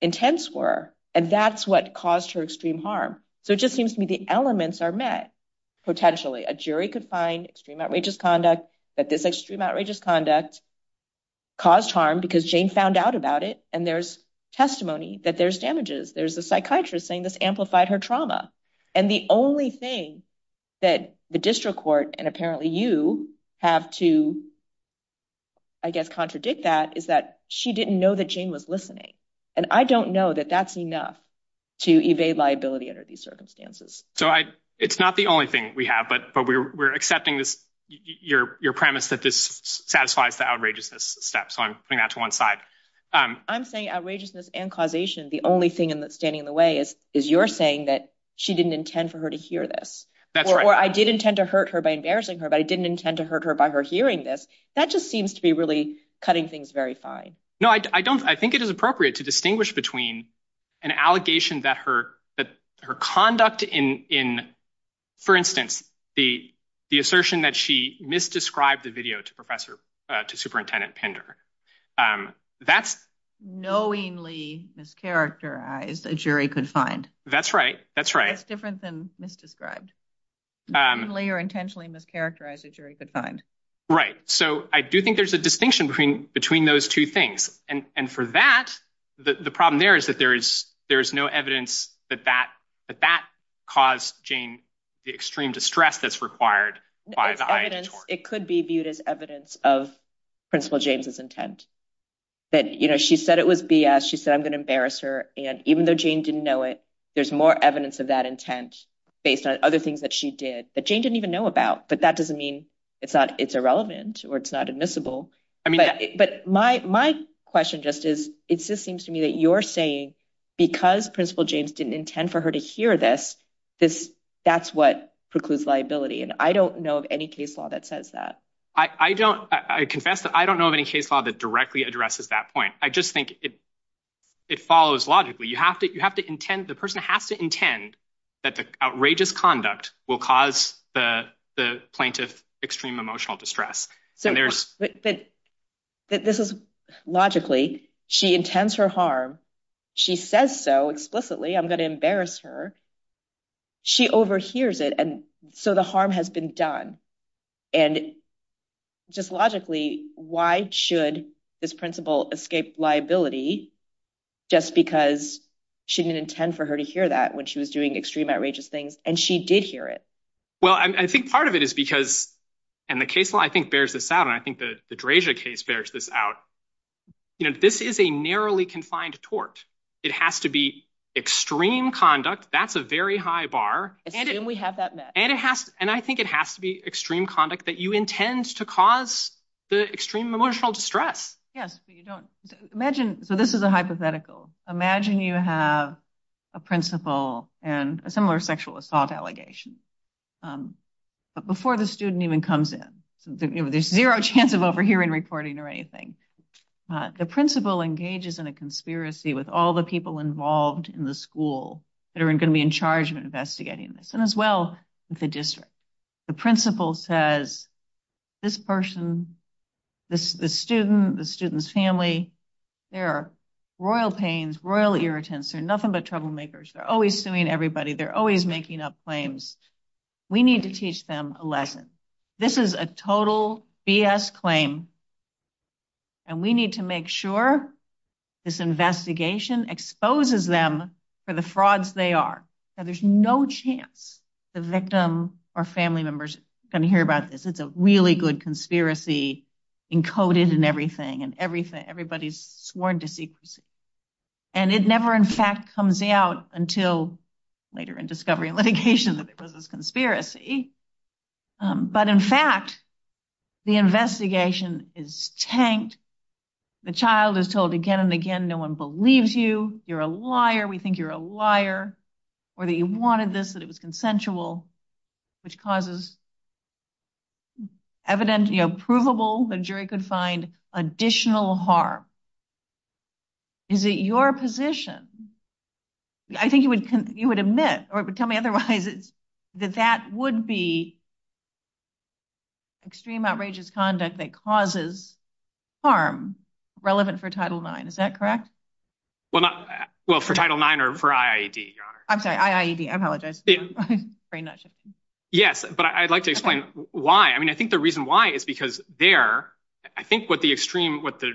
Intense were and that's what caused her extreme harm. So it just seems to me the elements are met potentially a jury could find extreme outrageous conduct that this extreme outrageous conduct. Caused harm because Jane found out about it and there's testimony that there's damages. There's a psychiatrist saying this amplified her trauma and the only thing that the district court and apparently you have to. I guess contradict that is that she didn't know that Jane was listening and I don't know that that's enough to evade liability under these circumstances. So I it's not the only thing we have, but we're accepting this your premise that this satisfies the outrageous steps. So I'm putting that to one side. I'm saying outrageousness and causation. The only thing in that standing in the way is is you're saying that she didn't intend for her to hear this. That's where I did intend to hurt her by embarrassing her, but I didn't intend to hurt her by her hearing this. That just seems to be really cutting things very fine. No, I don't. I think it is appropriate to distinguish between an allegation that her that her conduct in in, for instance, the, the assertion that she misdescribed the video to professor to superintendent Pender. That's knowingly is characterized a jury could find. That's right. That's right. Different than misdescribed. You're intentionally mischaracterized. It's very good time. Right? So I do think there's a distinction between between those two things. And for that, the problem there is that there is there's no evidence that that that that caused Jane, the extreme distress that's required. It could be viewed as evidence of principal James's intent. But, you know, she said it was BS. She said I'm gonna embarrass her. And even though Jane didn't know it, there's more evidence of that intent based on other things that she did that Jane didn't even know about. But that doesn't mean it's not it's irrelevant or it's not admissible. But my my question just is, it just seems to me that you're saying, because principal James didn't intend for her to hear this. That's what precludes liability. And I don't know of any case law that says that I don't I confess that I don't know of any case law that directly addresses that point. I just think it. It follows logically, you have to you have to intend the person has to intend that the outrageous conduct will cause the plaintiff extreme emotional distress. There's that this is logically she intends her harm. She says so explicitly. I'm going to embarrass her. She overhears it. And so the harm has been done. And just logically, why should this principle escape liability just because she didn't intend for her to hear that when she was doing extreme outrageous things and she did hear it. Well, I think part of it is because and the case law, I think, bears this out. And I think that the case bears this out. This is a narrowly confined tort. It has to be extreme conduct. That's a very high bar. And we have that. And it has. And I think it has to be extreme conduct that you intend to cause the extreme emotional distress. Yes, you don't imagine. So this is a hypothetical. Imagine you have a principal and a similar sexual assault allegations before the student even comes in. There's zero chance of overhearing reporting or anything. The principal engages in a conspiracy with all the people involved in the school that are going to be in charge of investigating this. And as well, it's a district. The principal says this person, the student, the student's family, they're royal pains, royal irritants. They're nothing but troublemakers. They're always suing everybody. They're always making up claims. We need to teach them a lesson. This is a total BS claim. And we need to make sure this investigation exposes them for the frauds they are. So there's no chance the victim or family members can hear about this. It's a really good conspiracy encoded in everything. Everybody's sworn to secrecy. And it never, in fact, comes out until later in discovery and litigation because it's a conspiracy. But, in fact, the investigation is tanked. The child is told again and again, no one believes you. You're a liar. We think you're a liar. Or that you wanted this, that it was consensual, which causes evidence, you know, provable, the jury could find additional harm. Is it your position? I think you would admit or tell me otherwise that that would be extreme outrageous conduct that causes harm relevant for Title IX. Is that correct? Well, for Title IX or for IAED? I'm sorry, IAED. I apologize. Yes, but I'd like to explain why. I mean, I think the reason why is because there, I think what the extreme, what the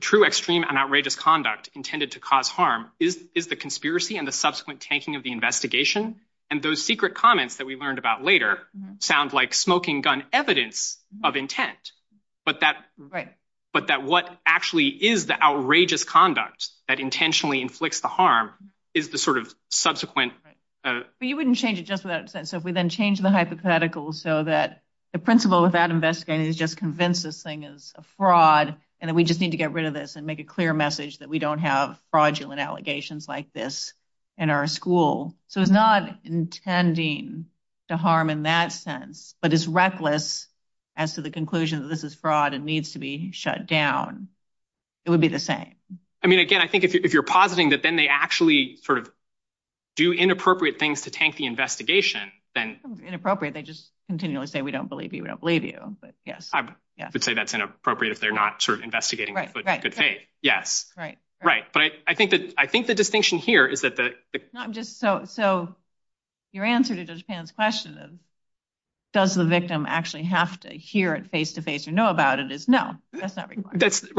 true extreme and outrageous conduct intended to cause harm is the conspiracy and the subsequent tanking of the investigation. And those secret comments that we learned about later sounds like smoking gun evidence of intent. But that, but that what actually is the outrageous conduct that intentionally inflicts the harm is the sort of subsequent. But you wouldn't change it just with that. So, if we then change the hypothetical so that the principal without investigating is just convinced this thing is a fraud and we just need to get rid of this and make a clear message that we don't have fraudulent allegations like this in our school. So, it's not intending to harm in that sense, but it's reckless as to the conclusion that this is fraud and needs to be shut down. It would be the same. I mean, again, I think if you're positing that then they actually sort of do inappropriate things to tank the investigation, then. Inappropriate. They just continually say, we don't believe you. We don't believe you. But, yes. I would say that's inappropriate if they're not sort of investigating. Right, right. Yes. Right, right. But I think that, I think the distinction here is that the. So, your answer to Judge Pan's question is, does the victim actually have to hear it face to face and know about it is no. That's not required. It's just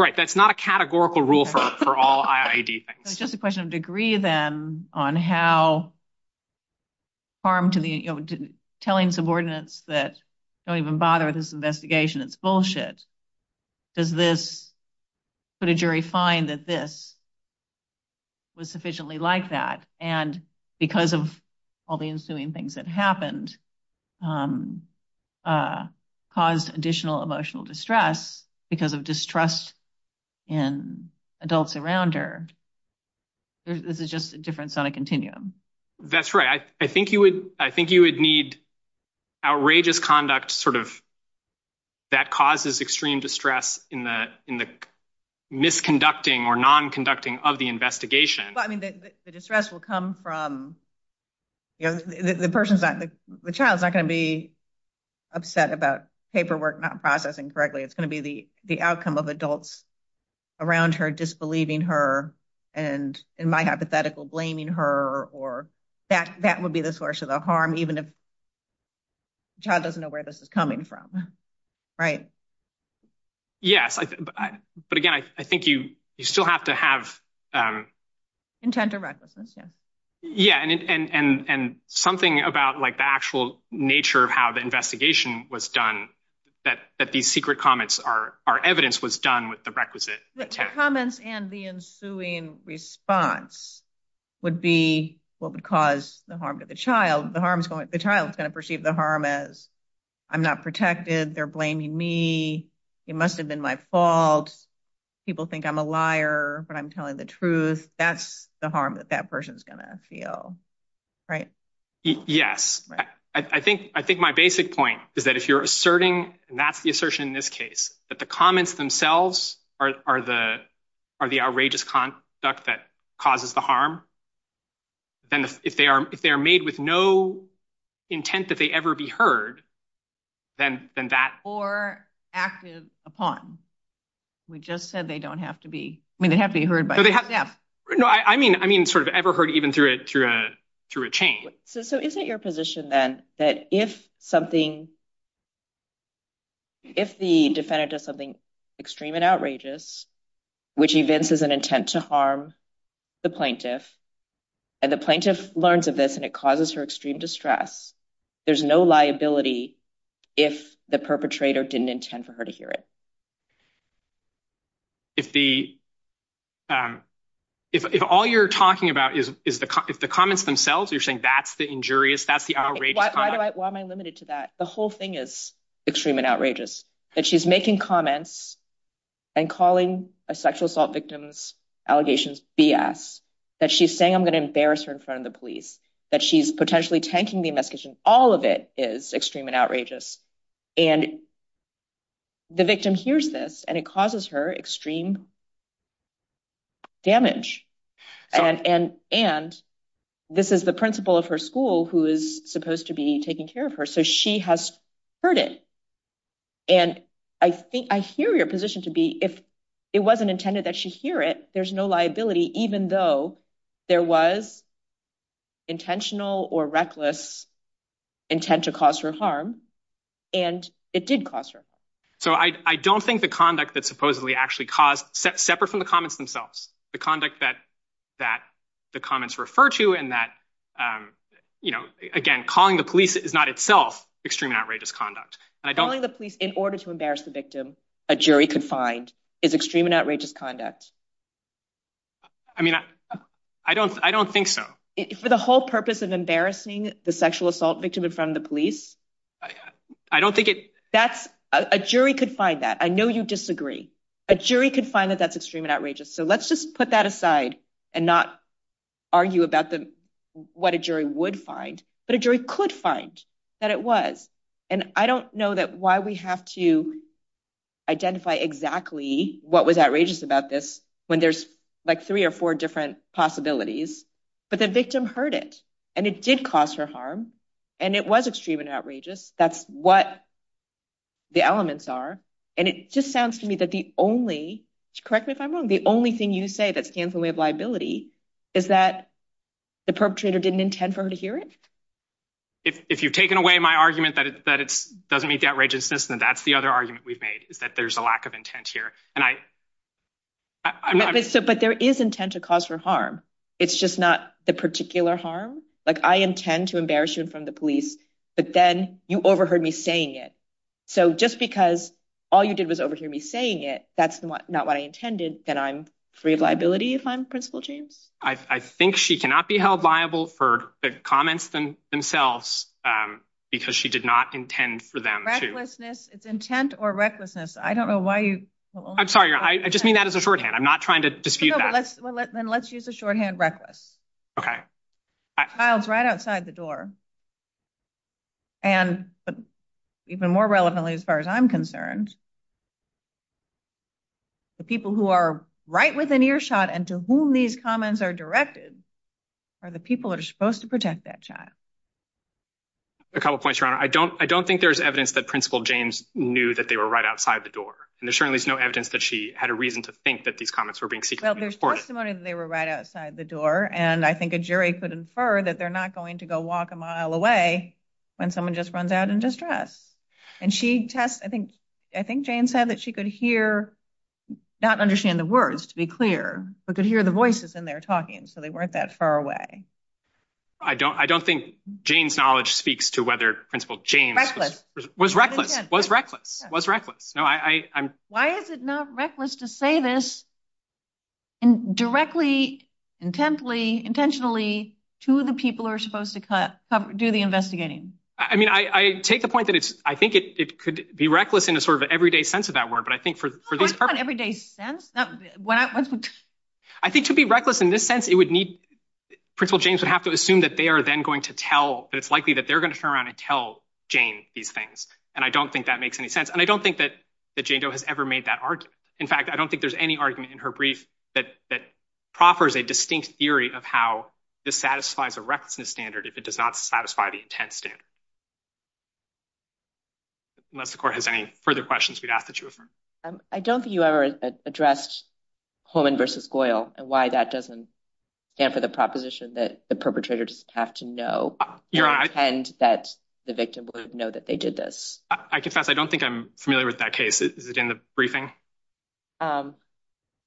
a question of degree then on how. Harm to the telling subordinates that don't even bother this investigation. It's bullshit. Does this put a jury find that this. Was sufficiently like that and because of all the ensuing things that happened. I think you would, I think you would need. Outrageous conduct sort of. That causes extreme distress in the, in the. Misconducting or non conducting of the investigation. The distress will come from. The person's that the child's not going to be upset about paperwork, not processing correctly. It's going to be the, the outcome of adults around her disbelieving her. And in my hypothetical blaming her, or that that would be the source of the harm, even if doesn't know where this is coming from. Right? Yes, but again, I think you, you still have to have. Intent to. Yeah, and, and, and, and something about, like, the actual nature of how the investigation was done. That that the secret comments are our evidence was done with the requisite comments and the ensuing response. Would be what would cause the harm to the child. The harm is going to the child's going to perceive the harm as. I'm not protected. They're blaming me. It must have been my fault. People think I'm a liar, but I'm telling the truth. That's the harm that that person's going to feel. Right? Yes, I think I think my basic point is that if you're asserting that's the assertion in this case, but the comments themselves are the. Are the outrageous conduct that causes the harm. Then, if they are, if they're made with no intent that they ever be heard. Then, then that or active upon. We just said they don't have to be. I mean, they have to be heard by. Yeah. No, I mean, I mean, sort of ever heard even through it through a through a chain. So, is it your position then that if something. If the defendant of something extreme and outrageous, which is an intent to harm the plaintiff. And the plaintiff learns of this, and it causes her extreme distress. There's no liability. If the perpetrator didn't intend for her to hear it. If the, if all you're talking about is, is the, if the comments themselves, you're saying that's the injurious that's the. Why am I limited to that? The whole thing is. That she's making comments and calling a sexual assault victims allegations. That she's saying, I'm gonna embarrass her in front of the police that she's potentially tanking the investigation. All of it is extreme and outrageous. And the victim hears this, and it causes her extreme. Damage and, and, and this is the principal of her school who is supposed to be taking care of her. So, she has heard it. And I think I hear your position to be if it wasn't intended that she hear it, there's no liability, even though there was. Intentional or reckless. Intent to cause her harm. And it did cost her. So, I, I don't think the conduct that supposedly actually caused separate from the comments themselves, the conduct that. That the comments refer to, and that, you know, again, calling the police is not itself extreme outrageous conduct. I don't want the police in order to embarrass the victim. A jury could find is extreme and outrageous conduct. I mean, I don't, I don't think so for the whole purpose of embarrassing the sexual assault victim in front of the police. I don't think that's a jury could find that. I know you disagree. A jury could find that that's extreme and outrageous. So, let's just put that aside and not argue about the, what a jury would find. But a jury could find that it was. And I don't know that why we have to identify exactly what was outrageous about this when there's like three or four different possibilities. But the victim heard it. And it did cause her harm. And it was extreme and outrageous. That's what the elements are. And it just sounds to me that the only correct me if I'm wrong. The only thing you say that stands when we have liability. Is that the perpetrator didn't intend for her to hear it. If you've taken away my argument that it's that it's doesn't meet that register. And that's the other argument we've made is that there's a lack of intent here and I. But there is intent to cause for harm. It's just not the particular harm. Like, I intend to embarrass you from the police, but then you overheard me saying it. So, just because all you did was overhear me saying it, that's not what I intended. And I'm free of liability if I'm principle change. I think she cannot be held liable for the comments themselves because she did not intend for them. It's intent or recklessness. I don't know why you. I'm sorry. I just mean that as a short hand. I'm not trying to dispute that. Then let's use the shorthand reckless. Okay. Right outside the door. And even more relevantly, as far as I'm concerned. The people who are right within earshot and to whom these comments are directed are the people that are supposed to protect that. I don't I don't think there's evidence that principle James knew that they were right outside the door and there's certainly no evidence that she had a reason to think that these comments were being. They were right outside the door. And I think a jury could infer that they're not going to go walk a mile away when someone just runs out in distress. And she, I think, I think James said that she could hear not understand the words to be clear, but could hear the voices in there talking. So they weren't that far away. I don't I don't think James knowledge speaks to whether principle was reckless was reckless was reckless. No, I, I'm why is it not reckless to say this. And directly intently intentionally to the people are supposed to cut do the investigating. I mean, I take the point that it's, I think it could be reckless in a sort of everyday sense of that word. But I think for everyday sense. I think to be reckless in this sense, it would need principle James would have to assume that they are then going to tell that it's likely that they're going to turn around and tell Jane these things. And I don't think that makes any sense. And I don't think that that Jane Doe has ever made that. In fact, I don't think there's any argument in her brief that that proffers a distinct theory of how this satisfies a requisite standard. If it does not satisfy the intent standard. Unless the court has any further questions, we'd have to choose. I don't think you ever addressed Poland versus oil and why that doesn't stand for the proposition that the perpetrator just have to know that the victim would know that they did this. I don't think I'm familiar with that case in the briefing. I'm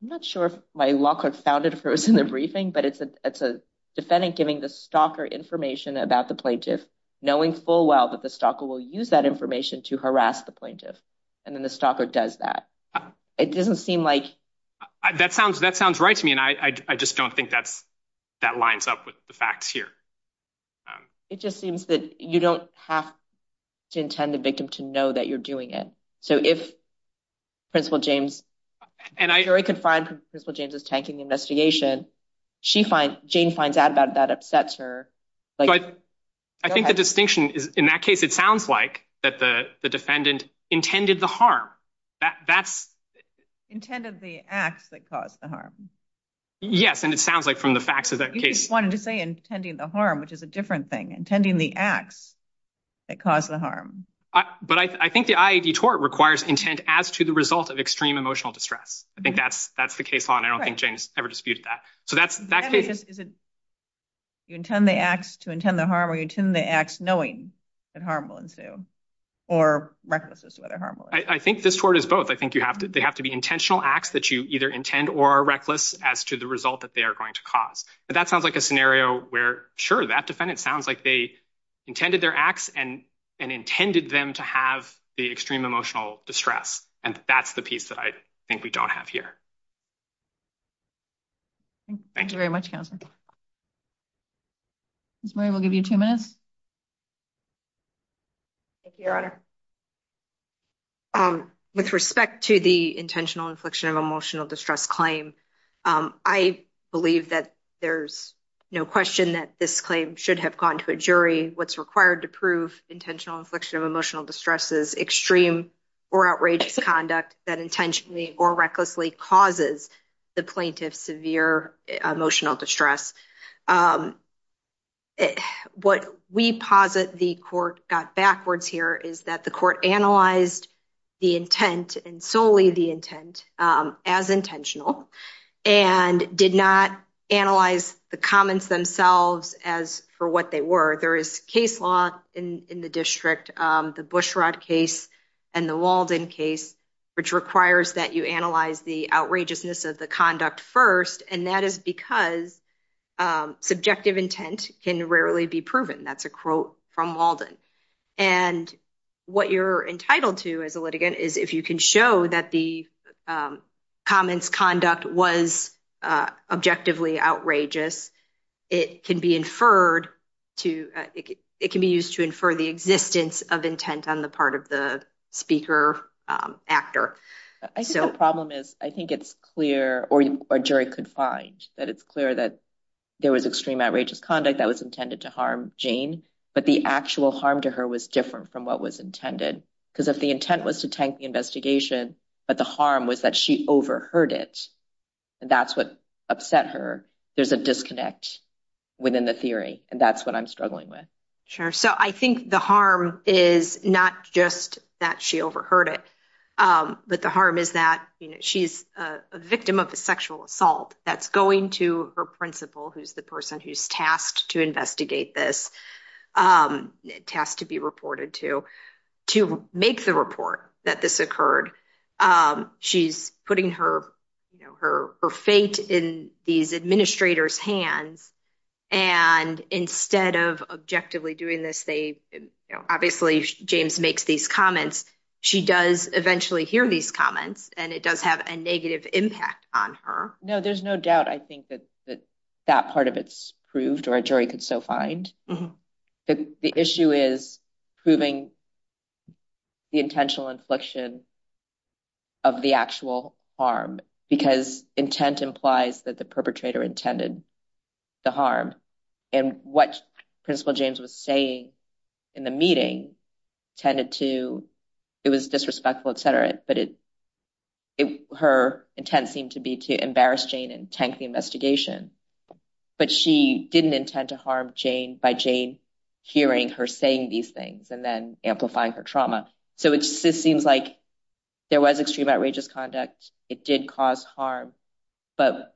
not sure if my locker founded in the briefing, but it's a, it's a defendant giving the stalker information about the plaintiff knowing full well that the stock will use that information to harass the plaintiff. And then the stalker does that. It doesn't seem like that sounds that sounds right to me. And I, I just don't think that's that lines up with the facts here. It just seems that you don't have to intend the victim to know that you're doing it. So, if principal James and I can find principal James's tanking investigation, she finds Jane finds out about that upsets her. I think the distinction is in that case. It sounds like that the defendant intended the harm that that's intended the acts that caused the harm. Yes, and it sounds like from the facts of that case, wanting to say, intending the harm, which is a different thing, intending the acts that caused the harm. But I think the ID tort requires intent as to the result of extreme emotional distress. I think that's that's the case. I don't think James ever disputed that. So that's that. You intend the acts to intend the harm, the acts, knowing that harm will ensue. Or I think this word is both. I think you have to, they have to be intentional acts that you either intend or reckless as to the result that they are going to cause. But that sounds like a scenario where sure that defendant sounds like they intended their acts and and intended them to have the extreme emotional distress. And that's the piece that I think we don't have here. Thank you very much. We'll give you two minutes. With respect to the intentional infliction of emotional distress claim. I believe that there's no question that this claim should have gone to a jury. What's required to prove intentional infliction of emotional distress is extreme or outrageous conduct that intentionally or recklessly causes the plaintiff severe emotional distress. What we posit the court backwards here is that the court analyzed the intent and solely the intent as intentional and did not analyze the comments themselves as for what they were. There is case law in the district. The Bushrod case and the Walden case, which requires that you analyze the outrageousness of the conduct first. And that is because subjective intent can rarely be proven. That's a quote from Walden. And what you're entitled to as a litigant is if you can show that the comments conduct was objectively outrageous. It can be inferred to it can be used to infer the existence of intent on the part of the speaker actor. I think the problem is, I think it's clear or jury could find that it's clear that there was extreme outrageous conduct that was intended to harm Jane. But the actual harm to her was different from what was intended. Because if the intent was to take the investigation, but the harm was that she overheard it, that's what upset her. There's a disconnect within the theory. And that's what I'm struggling with. Sure. So I think the harm is not just that she overheard it, but the harm is that she's a victim of a sexual assault that's going to her principal, who's the person who's tasked to investigate this. It has to be reported to make the report that this occurred. She's putting her fate in these administrators hands. And instead of objectively doing this, they obviously, James makes these comments. She does eventually hear these comments and it does have a negative impact on her. No, there's no doubt. I think that that part of it's proved or a jury could still find that the issue is proving the intentional infliction of the actual harm, because intent implies that the perpetrator intended the harm. And what Principal James was saying in the meeting tended to, it was disrespectful, etc. But her intent seemed to be to embarrass Jane and tank the investigation. But she didn't intend to harm Jane by Jane hearing her saying these things and then amplifying her trauma. So it just seems like there was extreme outrageous conduct. It did cause harm, but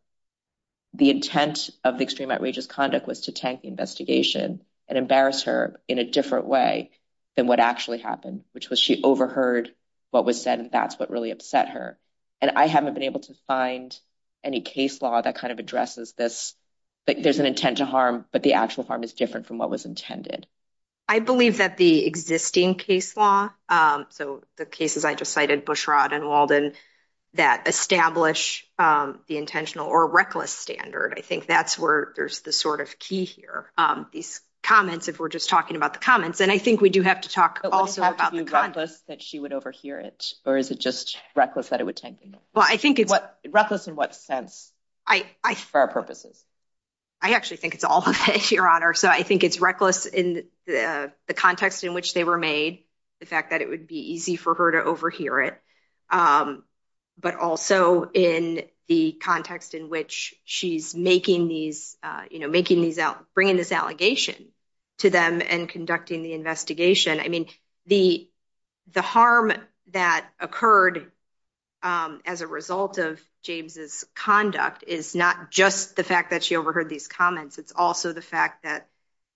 the intent of extreme outrageous conduct was to tank the investigation and embarrass her in a different way than what actually happened, which was she overheard what was said. And that's what really upset her. And I haven't been able to find any case law that kind of addresses this. There's an intent to harm, but the actual harm is different from what was intended. I believe that the existing case law, so the cases I just cited, Bushrod and Walden, that establish the intentional or reckless standard. I think that's where there's the sort of key here. These comments, if we're just talking about the comments, and I think we do have to talk also about the comments. Is it reckless that she would overhear it, or is it just reckless that it would tank? Well, I think it's reckless in what sense for our purposes. I actually think it's all of it, Your Honor. So I think it's reckless in the context in which they were made, the fact that it would be easy for her to overhear it, but also in the context in which she's bringing this allegation to them and conducting the investigation. I mean, the harm that occurred as a result of James's conduct is not just the fact that she overheard these comments. It's also the fact that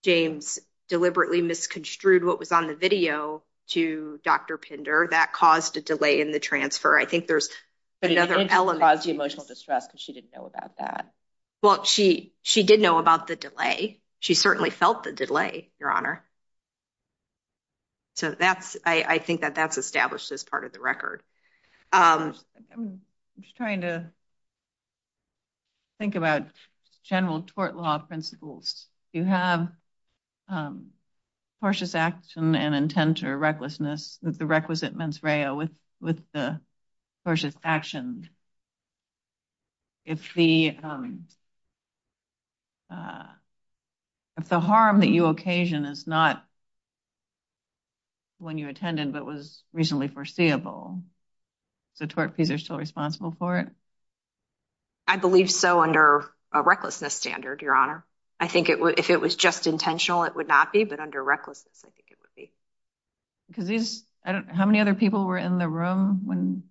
James deliberately misconstrued what was on the video to Dr. Pinder. That caused a delay in the transfer. I think there's another element. Well, she did know about the delay. She certainly felt the delay, Your Honor. So I think that that's established as part of the record. I'm just trying to think about general tort law principles. You have cautious action and intent or recklessness with the requisite mens rea with the cautious action. If the harm that you occasion is not one you attended but was reasonably foreseeable, the tort pleas are still responsible for it? I believe so under a recklessness standard, Your Honor. I think if it was just intentional, it would not be, but under recklessness, I think it would be. How many other people were in the room?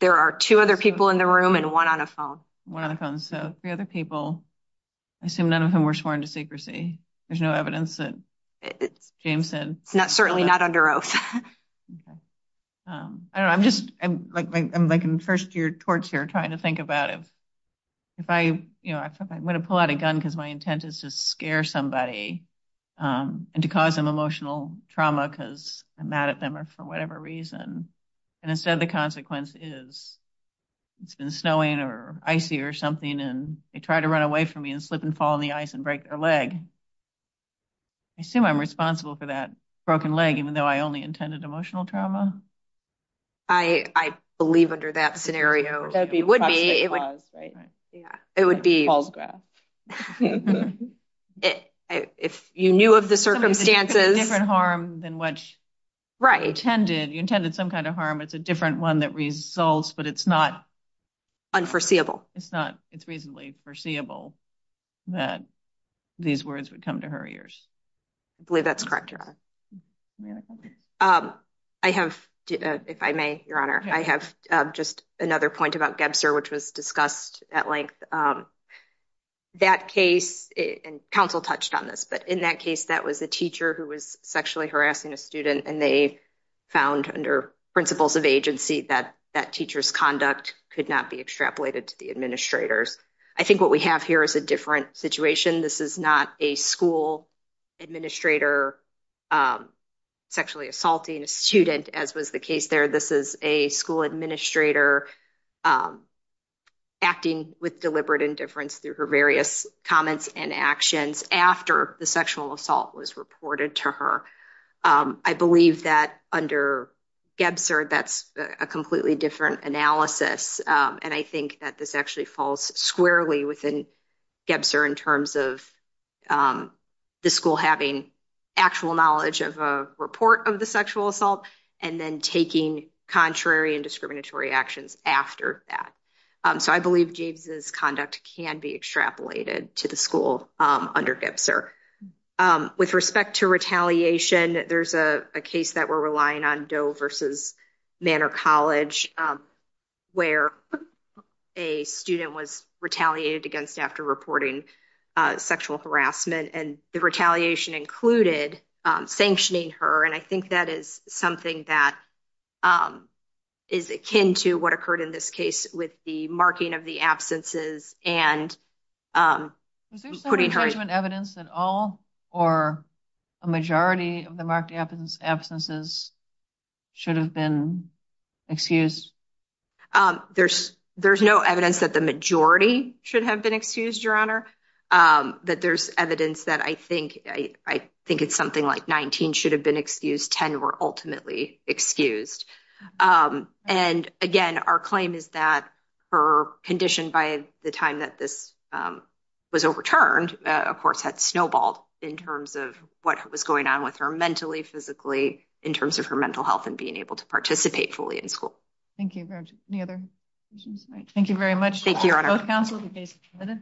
There are two other people in the room and one on a phone. One on a phone. So three other people. I assume none of them were sworn to secrecy. There's no evidence that James said. Certainly not under oath. I'm just making first-year torts here trying to think about it. I'm going to pull out a gun because my intent is to scare somebody and to cause them emotional trauma because I'm mad at them for whatever reason. And instead the consequence is it's been snowing or icy or something and they try to run away from me and slip and fall on the ice and break their leg. I assume I'm responsible for that broken leg even though I only intended emotional trauma? I believe under that scenario it would be. It would be. If you knew of the circumstances. It's a different harm than what you intended. You intended some kind of harm. It's a different one that results, but it's not... Unforeseeable. It's reasonably foreseeable that these words would come to her ears. I believe that's correct, Your Honor. I have, if I may, Your Honor, I have just another point about Debser, which was discussed at length. That case, and counsel touched on this, but in that case that was a teacher who was sexually harassing a student and they found under principles of agency that that teacher's conduct could not be extrapolated to the administrators. I think what we have here is a different situation. This is not a school administrator sexually assaulting a student as was the case there. This is a school administrator acting with deliberate indifference through her various comments and actions after the sexual assault was reported to her. I believe that under Debser, that's a completely different analysis. And I think that this actually falls squarely within Debser in terms of the school having actual knowledge of a report of the sexual assault and then taking contrary and discriminatory actions after that. So I believe Gaines's conduct can be extrapolated to the school under Debser. With respect to retaliation, there's a case that we're relying on Doe versus Manor College where a student was retaliated against after reporting sexual harassment. And the retaliation included sanctioning her. And I think that is something that is akin to what occurred in this case with the marking of the absences and putting her. Is there any evidence at all or a majority of the marked absences should have been excused? There's no evidence that the majority should have been excused, your honor. That there's evidence that I think I think it's something like 19 should have been excused. Ten were ultimately excused. And again, our claim is that her condition by the time that this was overturned, of course, had snowballed in terms of what was going on with her mentally, physically, in terms of her mental health and being able to participate fully in school. Thank you very much. Thank you very much. Thank you.